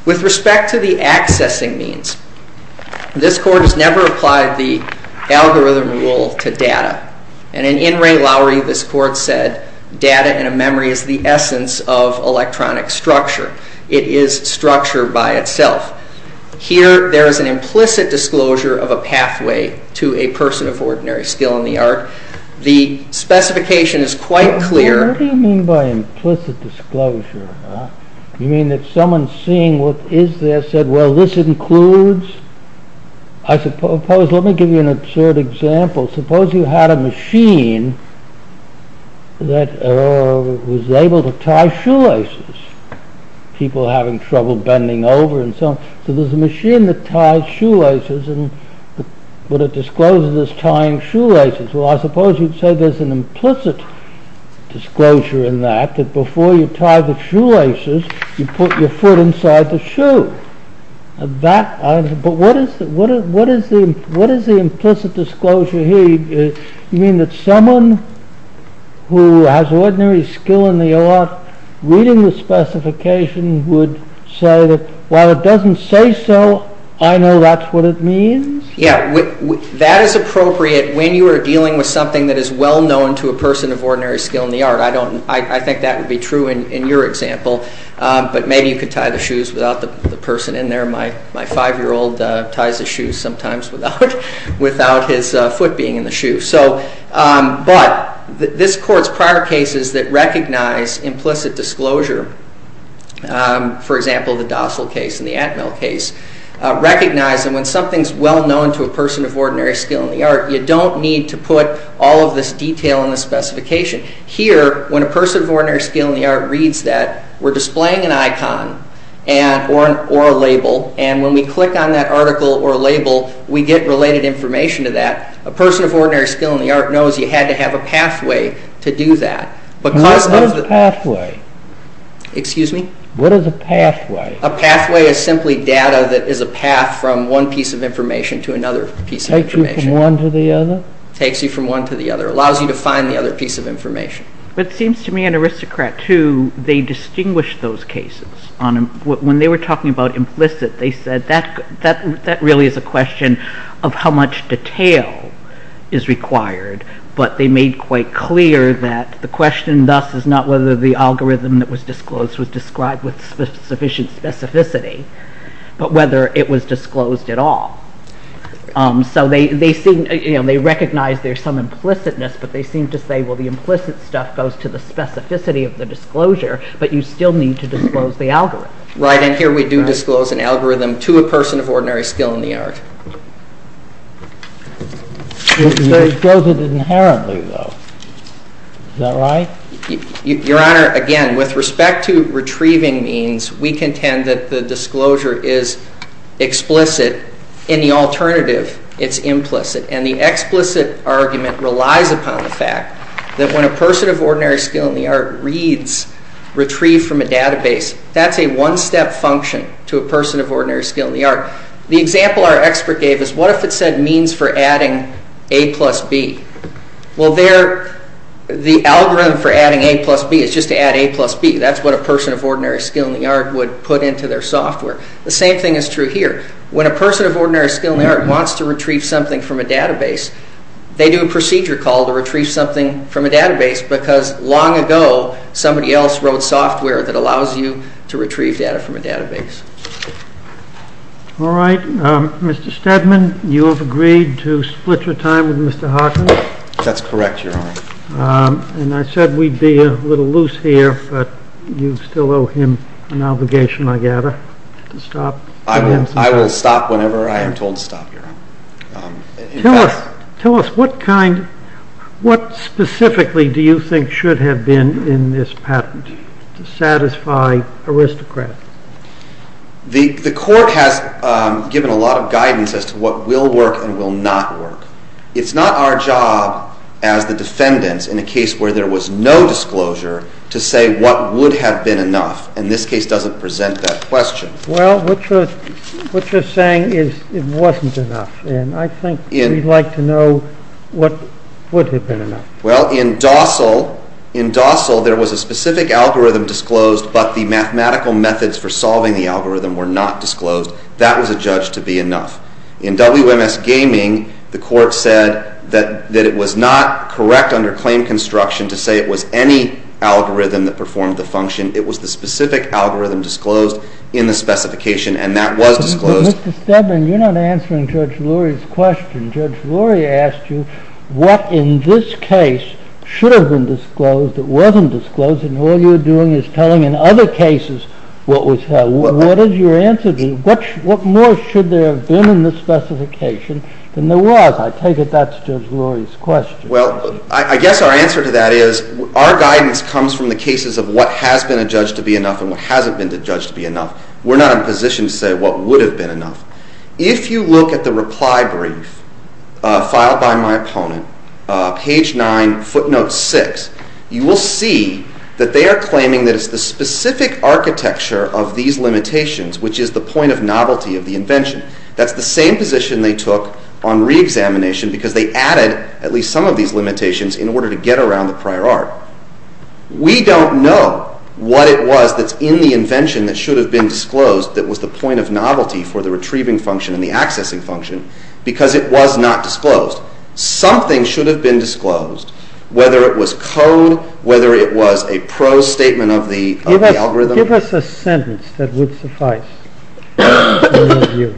With respect to the accessing means, this court has never applied the algorithm rule to data, and in In re Lauri, this court said, data in a memory is the essence of electronic structure. It is structure by itself. Here, there is an implicit disclosure of a pathway to a person of ordinary skill in the art. The specification is quite clear. What do you mean by implicit disclosure? You mean that someone seeing what is there said, well, this includes... Let me give you an absurd example. Suppose you had a machine that was able to tie shoelaces. People having trouble bending over and so on. So there's a machine that ties shoelaces and would have disclosed it as tying shoelaces. Well, I suppose you'd say there's an implicit disclosure in that that before you tie the shoelaces, you put your foot inside the shoe. But what is the implicit disclosure here? You mean that someone who has ordinary skill in the art reading the specification would say that while it doesn't say so, I know that's what it means? Yeah, that is appropriate when you are dealing with something that is well known to a person of ordinary skill in the art. I think that would be true in your example. But maybe you could tie the shoes without the person in there. My five-year-old ties his shoes sometimes without his foot being in the shoe. But this court's prior cases that recognize implicit disclosure, for example, the Dossal case and the Atmel case, recognize that when something is well known to a person of ordinary skill in the art, you don't need to put all of this detail in the specification. Here, when a person of ordinary skill in the art reads that, we're displaying an icon or a label, and when we click on that article or label, we get related information to that. A person of ordinary skill in the art knows you had to have a pathway to do that. What is a pathway? Excuse me? What is a pathway? A pathway is simply data that is a path from one piece of information to another piece of information. Takes you from one to the other? Takes you from one to the other. Allows you to find the other piece of information. It seems to me an aristocrat, too, they distinguish those cases. When they were talking about implicit, they said that really is a question of how much detail is required, but they made quite clear that the question thus is not whether the algorithm that was disclosed was described with sufficient specificity, but whether it was disclosed at all. So they recognize there's some implicitness, but they seem to say, well, the implicit stuff goes to the specificity of the disclosure, but you still need to disclose the algorithm. Right, and here we do disclose an algorithm to a person of ordinary skill in the art. You can disclose it inherently, though. Is that right? Your Honor, again, with respect to retrieving means, we contend that the disclosure is explicit. In the alternative, it's implicit, and the explicit argument relies upon the fact that when a person of ordinary skill in the art reads retrieve from a database, that's a one-step function to a person of ordinary skill in the art. The example our expert gave is, what if it said means for adding A plus B? Well, the algorithm for adding A plus B is just to add A plus B. That's what a person of ordinary skill in the art The same thing is true here. When a person of ordinary skill in the art wants to retrieve something from a database, they do a procedure called to retrieve something from a database because long ago, somebody else wrote software that allows you to retrieve data from a database. All right, Mr. Steadman, you have agreed to split your time with Mr. Hawkins? That's correct, Your Honor. And I said we'd be a little loose here, but you still owe him an obligation, I gather, to stop. I will stop whenever I am told to stop, Your Honor. Tell us, what specifically do you think should have been in this patent to satisfy aristocrats? The court has given a lot of guidance as to what will work and will not work. It's not our job as the descendants in a case where there was no disclosure to say what would have been enough, and this case doesn't present that question. Well, what you're saying is it wasn't enough, and I think we'd like to know what would have been enough. Well, in Dossal, there was a specific algorithm disclosed, but the mathematical methods for solving the algorithm were not disclosed. That was adjudged to be enough. In WMS Gaming, the court said that it was not correct under claim construction to say it was any algorithm that performed the function. It was the specific algorithm disclosed in the specification, and that was disclosed. Mr. Stedman, you're not answering Judge Lurie's question. Judge Lurie asked you what in this case should have been disclosed that wasn't disclosed, and all you're doing is telling in other cases what was held. What is your answer to that? What more should there have been in the specification than there was? I take it that's Judge Lurie's question. Well, I guess our answer to that is our guidance comes from the cases of what has been adjudged to be enough and what hasn't been adjudged to be enough. We're not in a position to say what would have been enough. If you look at the reply brief filed by my opponent, page 9, footnote 6, you will see that they are claiming that it's the specific architecture of these limitations which is the point of novelty of the invention. That's the same position they took on reexamination because they added at least some of these limitations in order to get around the prior art. We don't know what it was that's in the invention that should have been disclosed that was the point of novelty for the retrieving function and the accessing function because it was not disclosed. Something should have been disclosed, whether it was code, whether it was a prose statement of the algorithm. Give us a sentence that would suffice. Well,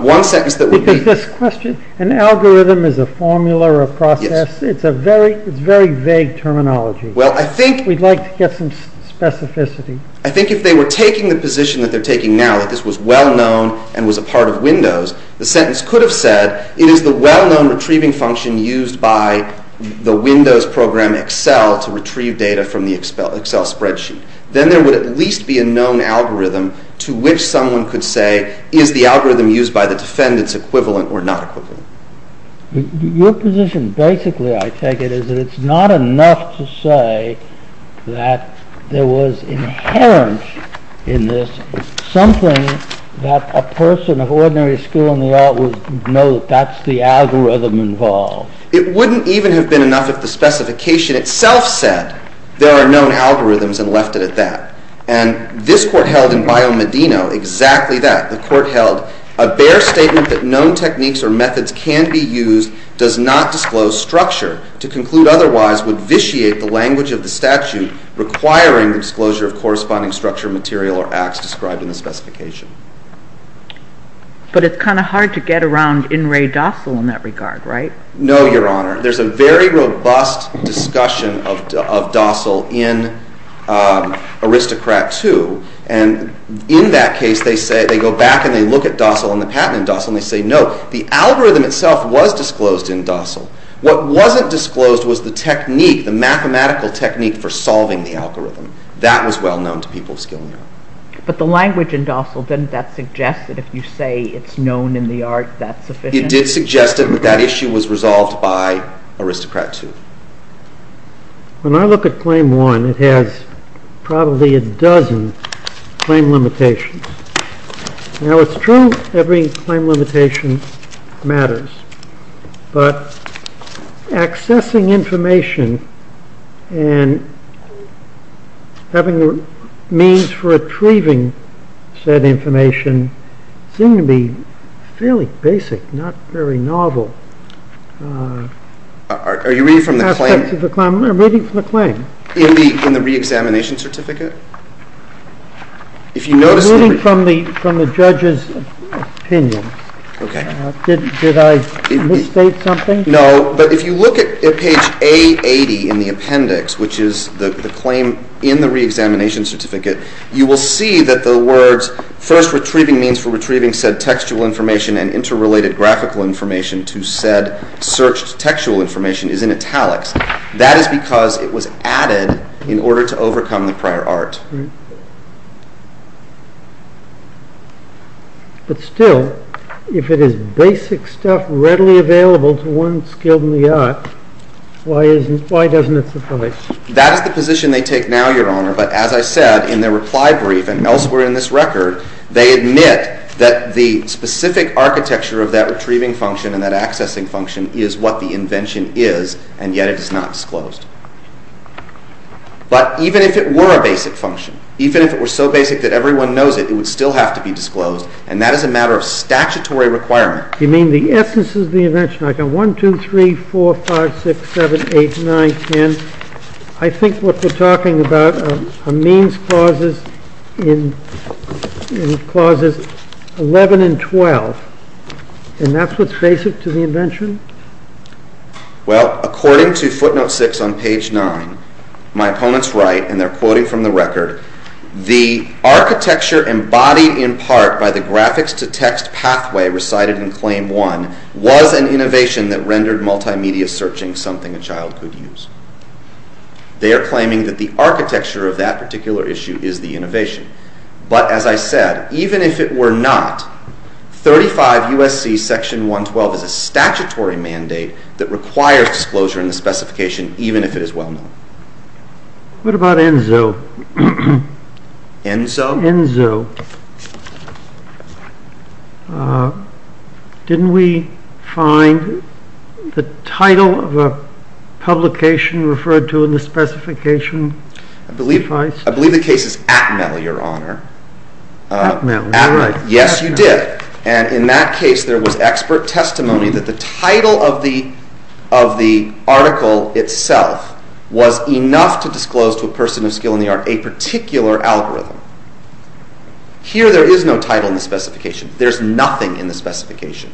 one sentence that would be... Because this question, an algorithm is a formula or a process. It's a very vague terminology. We'd like to get some specificity. I think if they were taking the position that they're taking now that this was well-known and was a part of Windows, the sentence could have said it is the well-known retrieving function used by the Windows program Excel to retrieve data from the Excel spreadsheet. Then there would at least be a known algorithm to which someone could say is the algorithm used by the defendants equivalent or not equivalent. Your position basically, I take it, is that it's not enough to say that there was inherent in this something that a person of ordinary skill in the art would know that that's the algorithm involved. It wouldn't even have been enough if the specification itself said there are known algorithms and left it at that. And this court held in Bione Medino exactly that. The court held a bare statement that known techniques or methods can be used does not disclose structure to conclude otherwise would vitiate the language of the statute requiring disclosure of corresponding structure, material, or acts described in the specification. But it's kind of hard to get around in re docile in that regard, right? No, Your Honor. There's a very robust discussion of docile in Aristocrat II. And in that case, they go back and they look at docile and the patent in docile and they say, no, the algorithm itself was disclosed in docile. What wasn't disclosed was the technique, the mathematical technique for solving the algorithm. That was well known to people of skill in the art. But the language in docile, didn't that suggest that if you say it's known in the art, that's sufficient? It did suggest that that issue was resolved by Aristocrat II. When I look at Claim 1, it has probably a dozen claim limitations. Now it's true, every claim limitation matters. But accessing information and having the means for retrieving said information seemed to be fairly basic, not very novel. Are you reading from the claim? I'm reading from the claim. In the re-examination certificate? I'm reading from the judge's opinion. Did I misstate something? No, but if you look at page A80 in the appendix, which is the claim in the re-examination certificate, you will see that the words first retrieving means for retrieving said textual information and interrelated graphical information to said searched textual information is in italics. That is because it was added in order to overcome the prior art. But still, if it is basic stuff readily available to one skilled in the art, why doesn't it suffice? That is the position they take now, Your Honor, but as I said in their reply brief and elsewhere in this record, they admit that the specific architecture of that retrieving function and that accessing function is what the invention is and yet it is not disclosed. But even if it were a basic function, even if it were so basic that everyone knows it, it would still have to be disclosed, and that is a matter of statutory requirement. You mean the essence of the invention? I've got 1, 2, 3, 4, 5, 6, 7, 8, 9, 10. I think what we're talking about are means clauses in clauses 11 and 12, and that's what takes it to the invention? Well, according to footnote 6 on page 9, my opponents write, and they're quoting from the record, the architecture embodied in part by the graphics-to-text pathway recited in claim 1 was an innovation that rendered multimedia searching something a child could use. They are claiming that the architecture of that particular issue is the innovation. But as I said, even if it were not, 35 U.S.C. Section 112 is a statutory mandate that requires disclosure in the specification even if it is well known. What about ENZO? ENZO? ENZO. Didn't we find the title of a publication referred to in the specification? I believe the case is ATMETL, Your Honor. ATMETL. Yes, you did. And in that case, there was expert testimony that the title of the article itself was enough to disclose to a person of skill in the art a particular algorithm. Here, there is no title in the specification. There's nothing in the specification.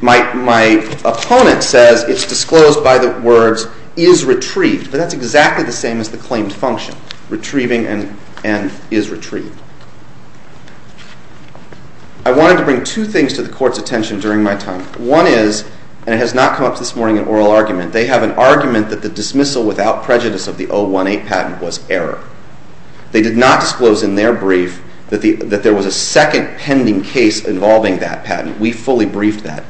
My opponent says it's disclosed by the words is retrieved, but that's exactly the same as the claimed function, retrieving and is retrieved. I wanted to bring two things to the Court's attention during my time. One is, and it has not come up this morning in oral argument, they have an argument that the dismissal without prejudice of the 018 patent was error. They did not disclose in their brief that there was a second pending case involving that patent. We fully briefed that.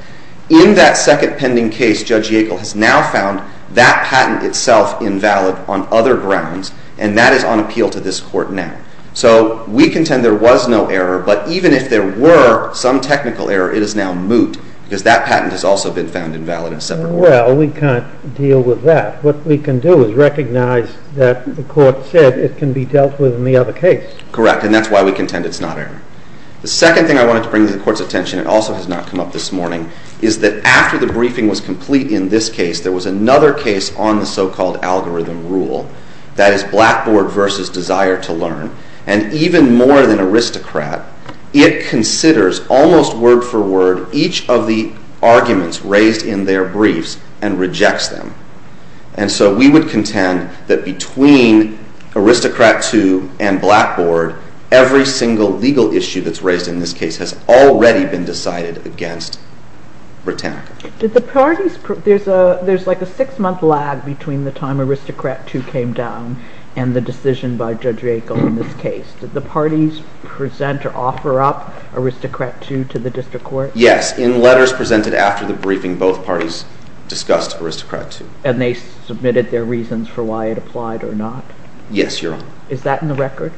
In that second pending case, Judge Yackel has now found that patent itself invalid on other grounds, and that is on appeal to this Court now. So, we contend there was no error, but even if there were some technical error, it is now moot because that patent has also been found invalid in a separate order. Well, we can't deal with that. What we can do is recognize that the Court said it can be dealt with in the other case. Correct, and that's why we contend it's not error. The second thing I wanted to bring to the Court's attention and also has not come up this morning is that after the briefing was complete in this case, there was another case on the so-called algorithm rule that is Blackboard versus Desire to Learn, and even more than Aristocrat, it considers almost word for word each of the arguments raised in their briefs and rejects them. And so, we would contend that between Aristocrat 2 and Blackboard, every single legal issue that's raised in this case has already been decided against Britannica. There's like a six-month lag between the time that Aristocrat 2 came down and the decision by Judge Riegel in this case. Did the parties present or offer up Aristocrat 2 to the District Court? Yes. In letters presented after the briefing, both parties discussed Aristocrat 2. And they submitted their reasons for why it applied or not? Yes, Your Honor. Is that in the record?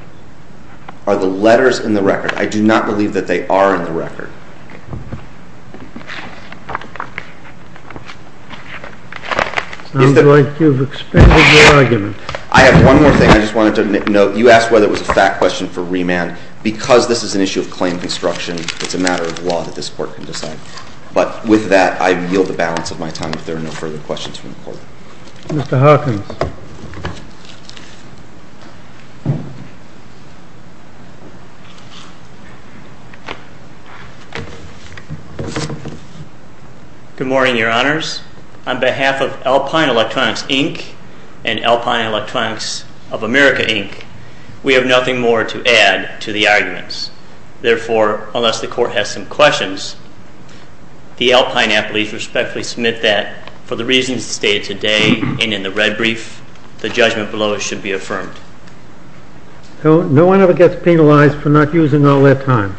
Are the letters in the record? I do not believe that they are in the record. I'm going to expand the argument. I have one more thing I just wanted to note. You asked whether it was a fact question for remand. Because this is an issue of claim construction, it's a matter of law that this Court can decide. But with that, I yield the balance of my time Mr. Hawkins. Mr. Hawkins. Mr. Hawkins. Mr. Hawkins. Mr. Hawkins. Mr. Hawkins. Mr. Hawkins. Mr. Hawkins. Good morning, Your Honors. On behalf of Alpine Electronics, Inc. and Alpine Electronics of America, INC., we have nothing more to add to the argument. Therefore, unless the Court has some questions, the Alpine athletes respectfully submit that for the reasons stated today and in the red brief, No one ever gets penalized for not using the allot m white time.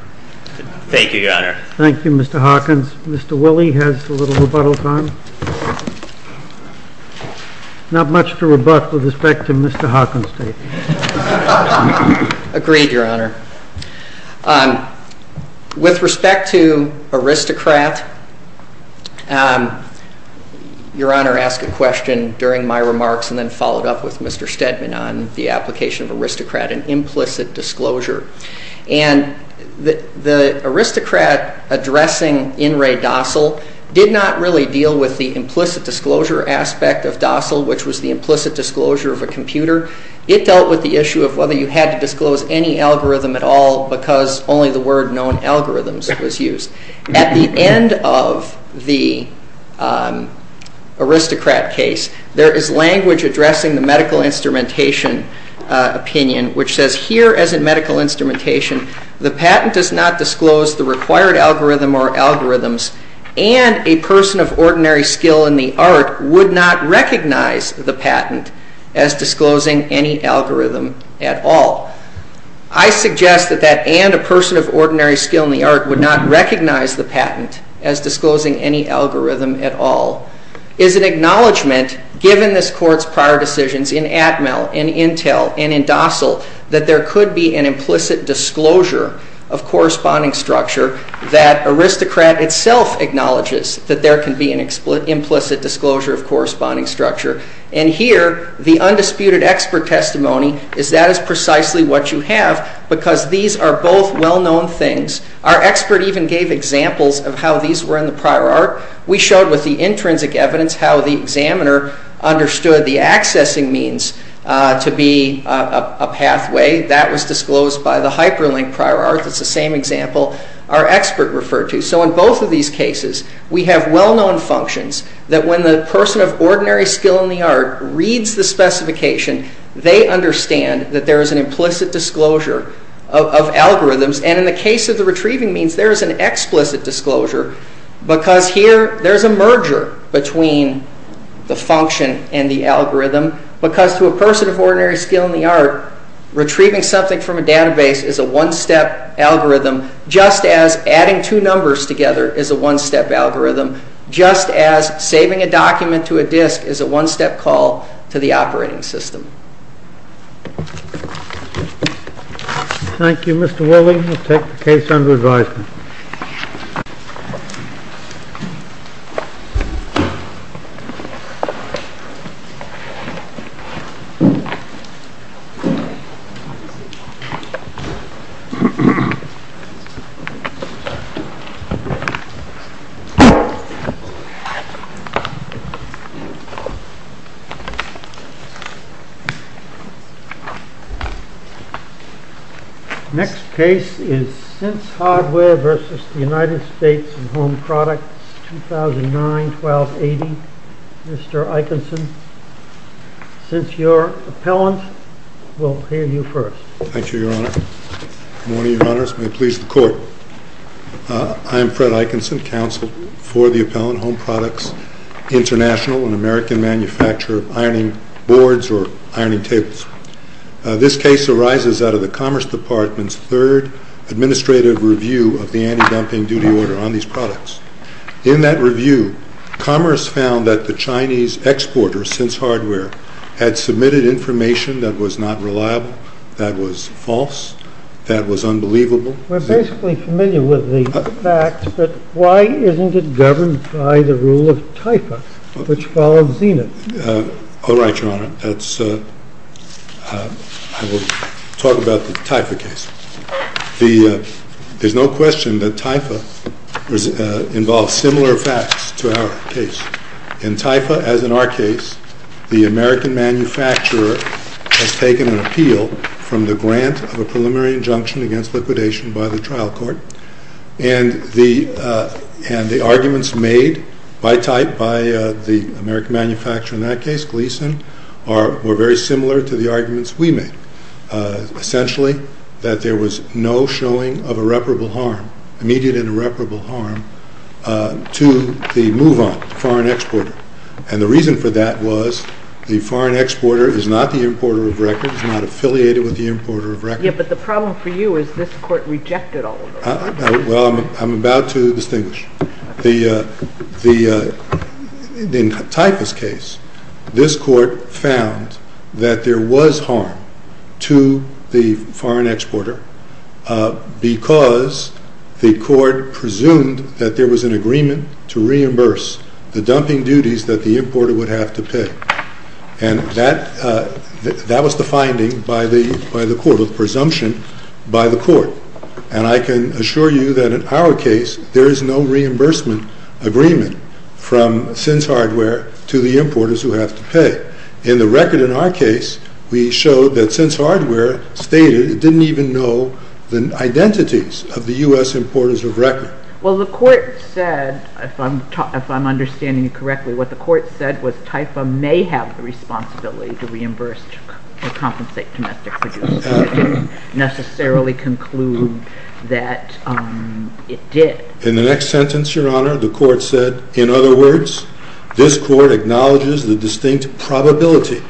Thank you, Your Honor. Mr. Forgust, Thank you, Mr. Hawkins. Mr. Woolley has a little rebuttal time. Not much to rebut with respect to Mr. Hawkins. Agreed, Your Honor. With respect to Aristocrat, Your Honor asked a question during my remarks and then followed up with Mr. Stedman on the application of Aristocrat and implicit disclosure. And the Aristocrat addressing In re docile did not really deal with the implicit disclosure aspect of docile, which was the implicit disclosure of a computer. It dealt with the issue of whether you had to disclose any algorithm at all because only the word known algorithms was used. At the end of the Aristocrat case, there is language addressing the medical instrumentation opinion, which says here, as in medical instrumentation, the patent does not disclose the required algorithm or algorithms and a person of ordinary skill in the art would not recognize the patent as disclosing any algorithm at all. I suggest that that and a person of ordinary skill in the art would not recognize the patent as disclosing any algorithm at all. It is an acknowledgement, given this court's prior decisions in Atmel and Intel and in docile, that there could be an implicit disclosure of corresponding structure that Aristocrat itself acknowledges that there can be an implicit disclosure of corresponding structure. Here, the undisputed expert testimony is that is precisely what you have because these are both well-known things. Our expert even gave examples of how these were in the prior art. We showed with the intrinsic evidence how the examiner understood the accessing means to be a pathway. That was disclosed by the hyperlink prior art. It is the same example. Our expert referred to. In both of these cases, we have well-known functions that when the person of ordinary skill in the art reads the specification, they understand that there is an implicit disclosure of algorithms. In the case of the retrieving means, there is an explicit disclosure because here there is a merger between the function and the algorithm because to a person of ordinary skill in the art, retrieving something from a database is a one-step algorithm just as adding two numbers together is a one-step algorithm just as saving a document to a disk is a one-step call to the operating system. Thank you, Mr. Whelan. We will take the case under advisement. Next case is since your appellant will hear you first. Thank you, Your Honor. Good morning, Your Honor. May it please the court. I am Fred Ikinson, counsel for the Appellant Home Products International and American of the Commerce Department's third administrative review of the United States Department of Commerce. This is a case in which the United States Department of Commerce is responsible for reviewing the anti-dumping duty order on these products. In that review, Commerce found that the Chinese exporters, since hardware, had submitted information that was not reliable, that was false, that was unbelievable. We're basically familiar with the fact, but why isn't it governed by the rule of typo, which follows Zenith? All right, Your Honor. Let's talk about the type of cases. The Chinese manufacturers have taken an appeal from the grant of a preliminary injunction against liquidation trial court, and the arguments made by type, by the American manufacturer in that case, Gleason, were very similar to the arguments we made. Essentially, that there was no showing of irreparable harm, immediate irreparable harm, to the move-on foreign exporter. And the reason for that was the foreign exporter was not the importer of records, not affiliated with the importer of records. Yes, but the problem for you is this court rejected all of those. Well, I'm about to distinguish. In Type's case, this court found that there was harm to the foreign exporter because the court presumed that there was an agreement to reimburse the dumping duties that the importer would have to pay. And that was the finding by the court, the presumption by the court. And I can assure you that in our case, there is no reimbursement agreement from Sins Hardware to the importers who have to pay. In the record in our case, we showed that Sins Hardware stated it didn't even know the identities of the U.S. importers of records. Well, the court said, if I'm understanding you correctly, what the court said was Typha may have the distinct probability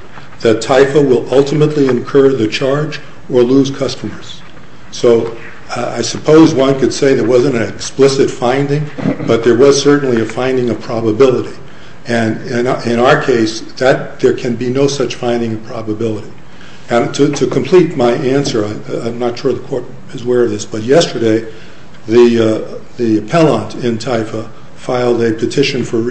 that Typha will ultimately incur the charge or lose customers. So I suppose one could say there wasn't an explicit finding, but there was certainly a finding of probability. And in our case, there can be no such finding of probability. To complete my answer, I'm not going to details of the case, but I'm going to say that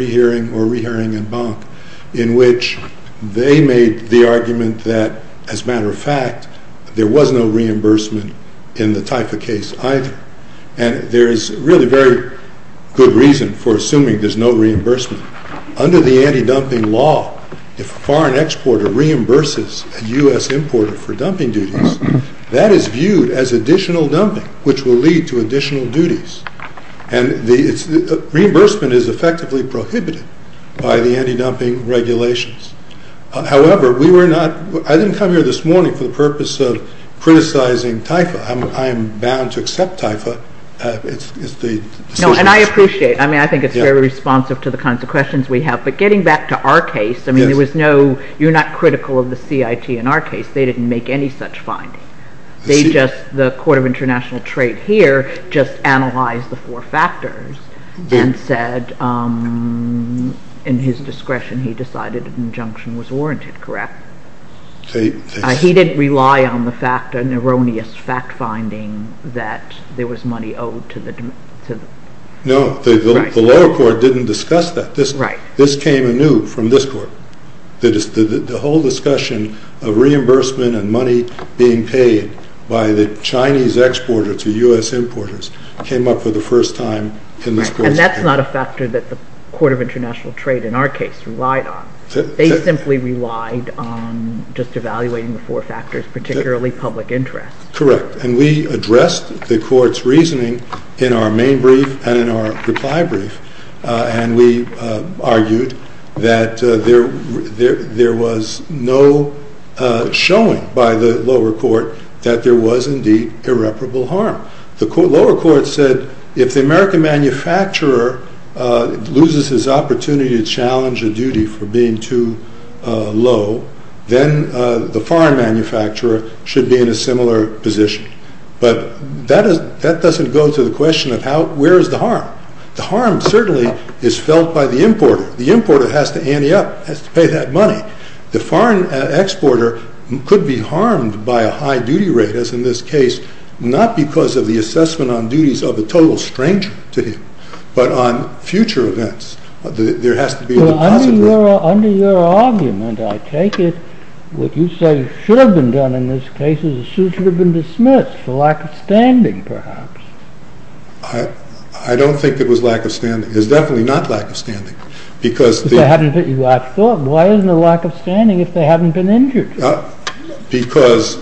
there was no reimbursement in the Typha case, either. And there is really very good reason for assuming there's no reimbursement. Under the anti-dumping law, if a foreign exporter reimburses a U.S. importer for dumping duties, that is viewed as additional dumping, which will lead to additional duties. Reimbursement is effectively prohibited by the anti-dumping regulations. However, I didn't come here this morning for the purpose of criticizing Typha. I'm bound to accept Typha. And I appreciate it. I think it's very responsive to the kinds of questions we have. But getting back to our case, you're not critical of the CIT in our case. They didn't make any such findings. They just analyzed the four factors and said in his discretion he decided the injunction was warranted, correct? He didn't rely on the fact that there was to the court. No, the lower court didn't discuss that. This came anew from this court. The whole discussion of reimbursement and money being paid by the Chinese exporter to U.S. importers came up for the first time from this court. And that's not a court of international trade in our case. They simply relied on just evaluating the four factors, particularly public interest. Correct. And we addressed the court's reasoning in our main brief and we argued that there was no shown by the lower court that there was indeed irreparable harm. The lower court said if the American manufacturer loses his opportunity to challenge a duty for being too low, then the foreign manufacturer in a similar position. But that doesn't go to the question of where is the harm. The harm certainly is felt by the importer. The importer has to ante up, has to pay that money. The foreign exporter could be harmed by a high duty rate, as in this case, not because of the assessment on duties of a total stranger to him, but on future events. Under your argument, I take it, what you say should have been done in this case is the suit should have been dismissed for lack of standing, perhaps. I don't think it was lack of standing. It was definitely not lack of standing. I thought, why isn't there lack of standing if they haven't been injured? Because the would be the case. I think it was necessary to do that. I think it was necessary to do that. necessary to do that.